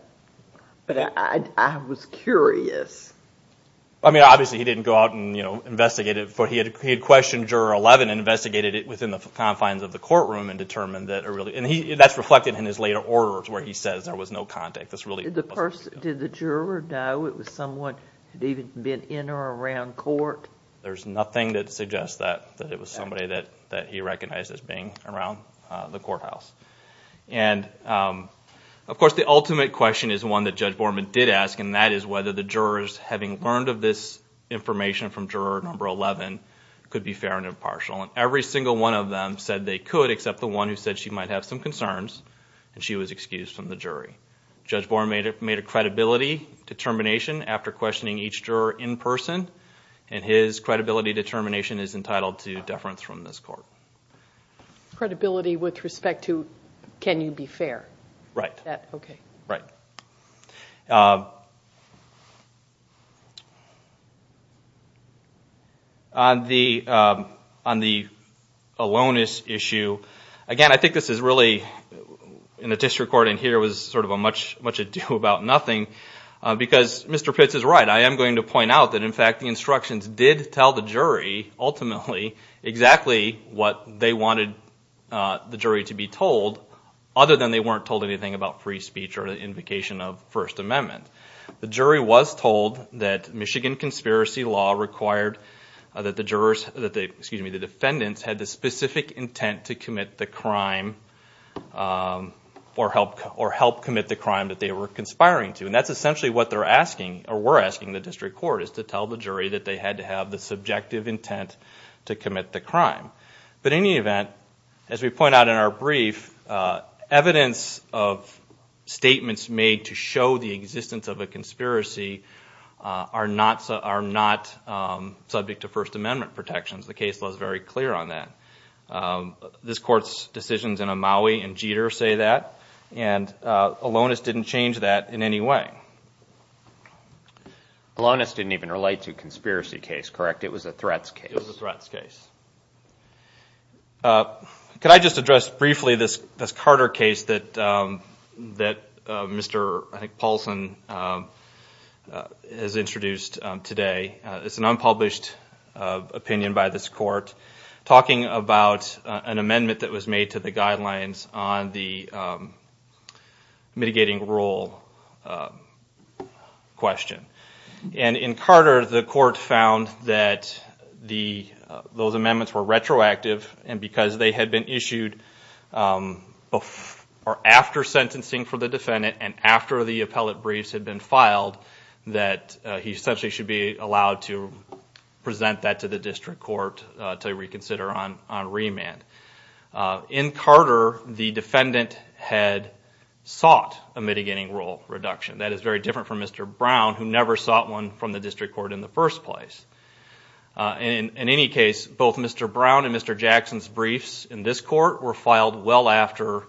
I was curious. Obviously he didn't go out and investigate it. He had questioned juror 11 and investigated it within the confines of the courtroom and determined that...that's reflected in his later orders where he says there was no contact. Did the juror know it was someone who had even been in or around court? There's nothing that suggests that it was somebody that he recognized as being around the courthouse. And of course the ultimate question is one that Judge Borman did ask, and that is whether the jurors, having learned of this information from juror number 11, could be fair and impartial. And every single one of them said they could, except the one who said she might have some concerns, and she was excused from the jury. Judge Borman made a credibility determination after questioning each juror in person, and his credibility determination is entitled to deference from this court. Credibility with respect to can you be fair? Right. On the aloneness issue, again I think this is really, in the district court in here, was sort of a much ado about nothing, because Mr. Pitts is right. I am going to point out that in fact the instructions did tell the jury, ultimately, exactly what they wanted the jury to be told, other than they weren't told anything about free speech or the invocation of the First Amendment. The jury was told that Michigan conspiracy law required that the jurors, excuse me, the defendants had the specific intent to commit the crime, or help commit the crime that they were conspiring to. And that's essentially what they're asking, or were asking the district court, is to tell the jury that they had to have the subjective intent to commit the crime. But in any event, as we point out in our brief, evidence of statements made to show the existence of a conspiracy are not subject to First Amendment protections. The case was very clear on that. This court's decisions in Amaui and Jeter say that, and Alonis didn't change that in any way. Alonis didn't even relate to a conspiracy case, correct? It was a threats case? It was a threats case. Could I just address briefly this Carter case that Mr. Paulson has introduced today? It's an unpublished opinion by this court, talking about an amendment that was made to the guidelines on the mitigating rule question. And in Carter, the court found that those amendments were retroactive, and because they had been issued after sentencing for the defendant, and after the appellate briefs had been filed, that he essentially should be allowed to go to the district court to reconsider on remand. In Carter, the defendant had sought a mitigating rule reduction. That is very different from Mr. Brown, who never sought one from the district court in the first place. In any case, both Mr. Brown and Mr. Jackson's briefs in this court were filed well after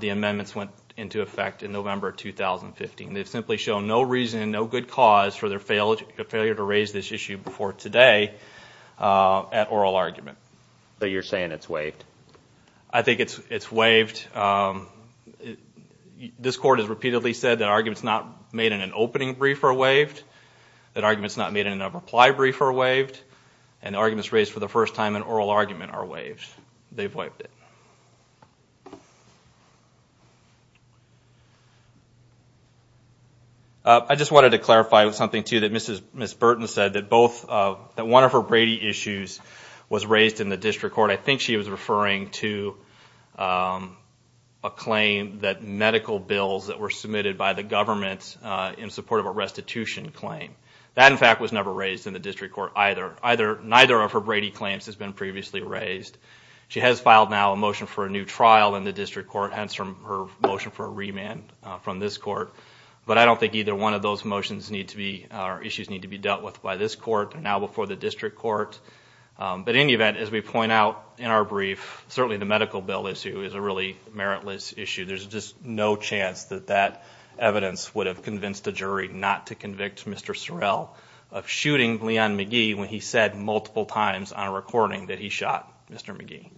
the amendments went into effect in November 2015. They've simply shown no reason, no good cause for their failure to raise this issue before today at oral argument. So you're saying it's waived? I think it's waived. This court has repeatedly said that arguments not made in an opening brief are waived, that arguments not made in a reply brief are waived, and arguments raised for the first time in oral argument are waived. They've waived it. I just wanted to clarify something, too, that Ms. Burton said, that one of her Brady issues was raised in the district court. I think she was referring to a claim that medical bills that were submitted by the government in support of a restitution claim. That, in fact, was never raised in the district court either. Neither of her Brady claims has been previously raised. She has filed now a motion for a new trial in the district court, hence her motion for a remand from this court. But I don't think either one of those issues need to be dealt with by this court. They're now before the district court. But in any event, as we point out in our brief, certainly the medical bill issue is a really meritless issue. There's just no chance that that evidence would have convinced a jury not to convict Mr. Sorrell of shooting Leon McGee when he said multiple times on a recording that he shot Mr. McGee.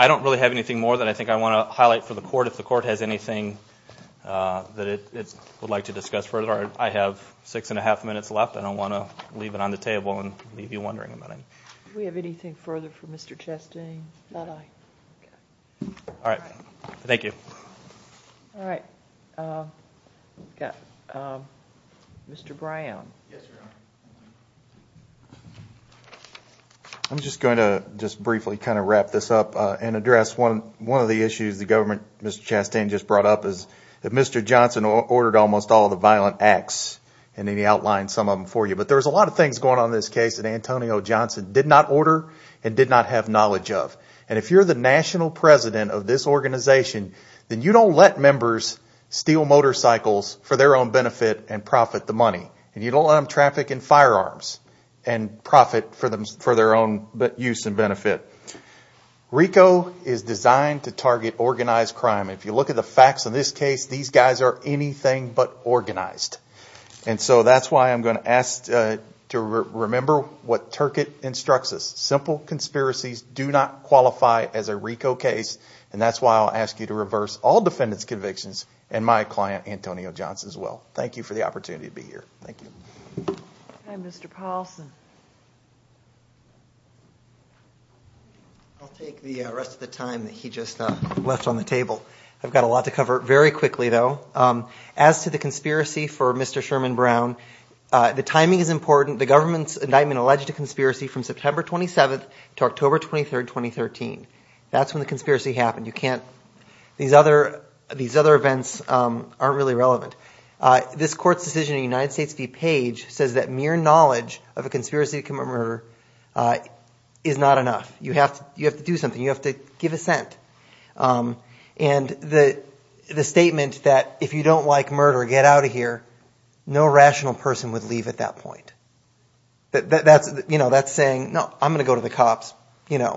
I don't really have anything more that I think I want to highlight for the court. If the court has anything that it would like to discuss further, I have six and a half minutes left. I don't want to leave it on the table and leave you wondering about it. Mr. Brown. I'm just going to briefly wrap this up and address one of the issues the government, Mr. Chastain, just brought up. Mr. Johnson ordered almost all of the violent acts, and he outlined some of them for you. But there's a lot of things going on in this case that Antonio Johnson did not order and did not have knowledge of. And if you're the national president of this organization, then you don't let members steal motorcycles for their own benefit and profit the money, and you don't let them traffic in firearms and profit for their own use and benefit. RICO is designed to target organized crime. If you look at the facts in this case, these guys are anything but organized. And so that's why I'm going to ask to remember what Turcotte instructs us. Simple conspiracies do not qualify as a RICO case. And that's why I'll ask you to reverse all defendants' convictions and my client, Antonio Johnson, as well. Thank you for the opportunity to be here. I'll take the rest of the time that he just left on the table. I've got a lot to cover very quickly, though. As to the conspiracy for Mr. Sherman Brown, the timing is important. The government's indictment alleged a conspiracy from September 27 to October 23, 2013. This court's decision in the United States v. Page says that mere knowledge of a conspiracy to commit murder is not enough. You have to do something. You have to give assent. And the statement that if you don't like murder, get out of here, no rational person would leave at that point. That's saying, no, I'm going to go to the cops. You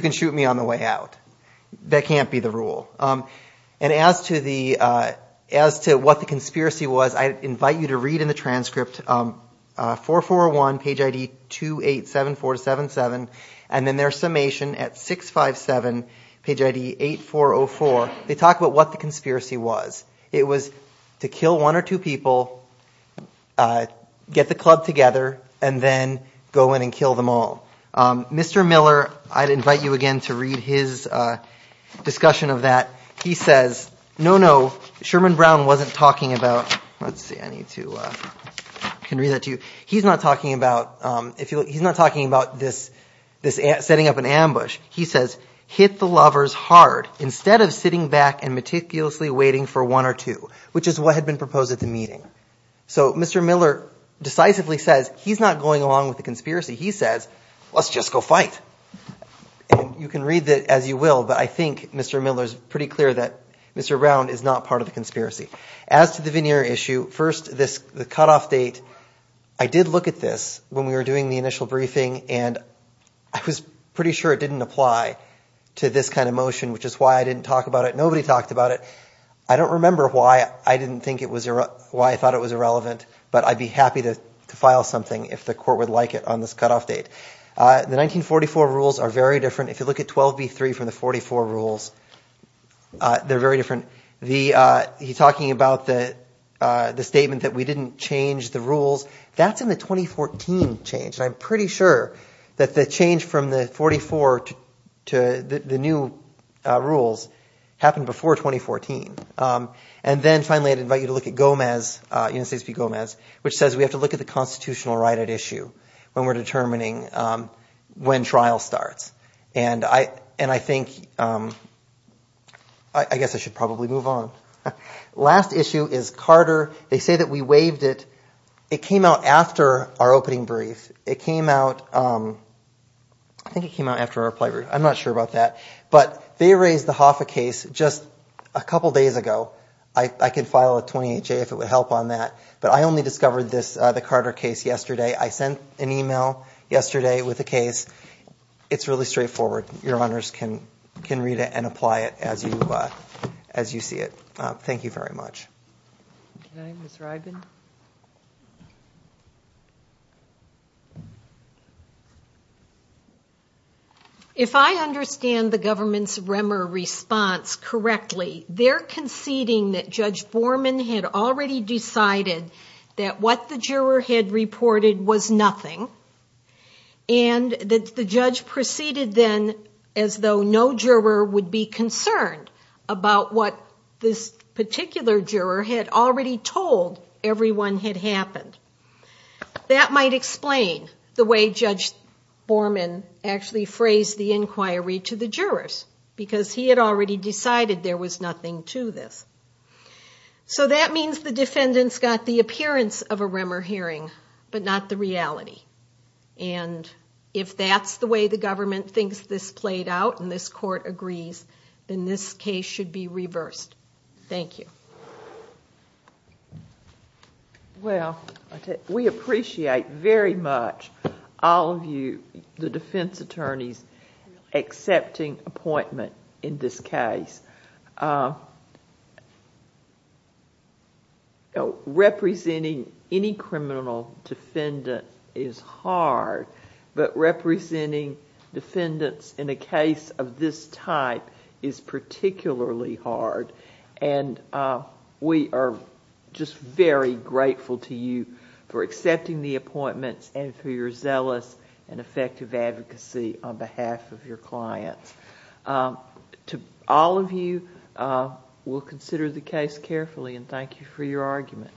can shoot me on the way out. That can't be the rule. And as to what the conspiracy was, I invite you to read in the transcript 441, page ID 287477. And then there's summation at 657, page ID 8404. They talk about what the conspiracy was. It was to kill one or two people, get the club together, and then go in and kill them all. Mr. Miller, I'd invite you again to read his discussion of that. He says, no, no, Sherman Brown wasn't talking about – let's see, I need to – I can read that to you. He's not talking about this setting up an ambush. He says, hit the lovers hard instead of sitting back and meticulously waiting for one or two, which is what had been proposed at the meeting. So Mr. Miller decisively says he's not going along with the conspiracy. He says, let's just go fight. And you can read that as you will, but I think Mr. Miller's pretty clear that Mr. Brown is not part of the conspiracy. As to the veneer issue, first, the cutoff date, I did look at this when we were doing the initial briefing, and I was pretty sure it didn't apply to this kind of motion, which is why I didn't talk about it. Nobody talked about it. I don't remember why I thought it was irrelevant, but I'd be happy to file something if the court would like it on this cutoff date. The 1944 rules are very different. If you look at 12b-3 from the 1944 rules, they're very different. He's talking about the statement that we didn't change the rules. That's in the 2014 change, and I'm pretty sure that the change from the 1944 to the new rules happened before 2014. And then finally, I'd invite you to look at Gomez, United States v. Gomez, which says we have to look at the constitutional right at issue when we're determining when trial starts. And I think, I guess I should probably move on. Last issue is Carter. They say that we waived it. It came out after our opening brief. It came out, I think it came out after our plenary. I'm not sure about that. But they raised the Hoffa case just a couple days ago. I can file a 28-J if it would help on that, but I only discovered the Carter case yesterday. I sent an email yesterday with the case. It's really straightforward. Your Honors can read it and apply it as you see it. Thank you very much. Ms. Rybin. If I understand the government's REMER response correctly, they're conceding that Judge Borman had already decided that what the juror had reported was nothing, and that the judge proceeded then as though no juror would be concerned about what this particular juror had reported. He had already told everyone had happened. That might explain the way Judge Borman actually phrased the inquiry to the jurors, because he had already decided there was nothing to this. So that means the defendants got the appearance of a REMER hearing, but not the reality. And if that's the way the government thinks this played out and this Court agrees, then this case should be reversed. Thank you. Well, we appreciate very much all of you, the defense attorneys, accepting appointment in this case. Representing any criminal defendant is hard, but representing defendants in a case of this type is particularly hard. And we are just very grateful to you for accepting the appointments and for your zealous and effective advocacy on behalf of your clients. All of you will consider the case carefully, and thank you for your argument.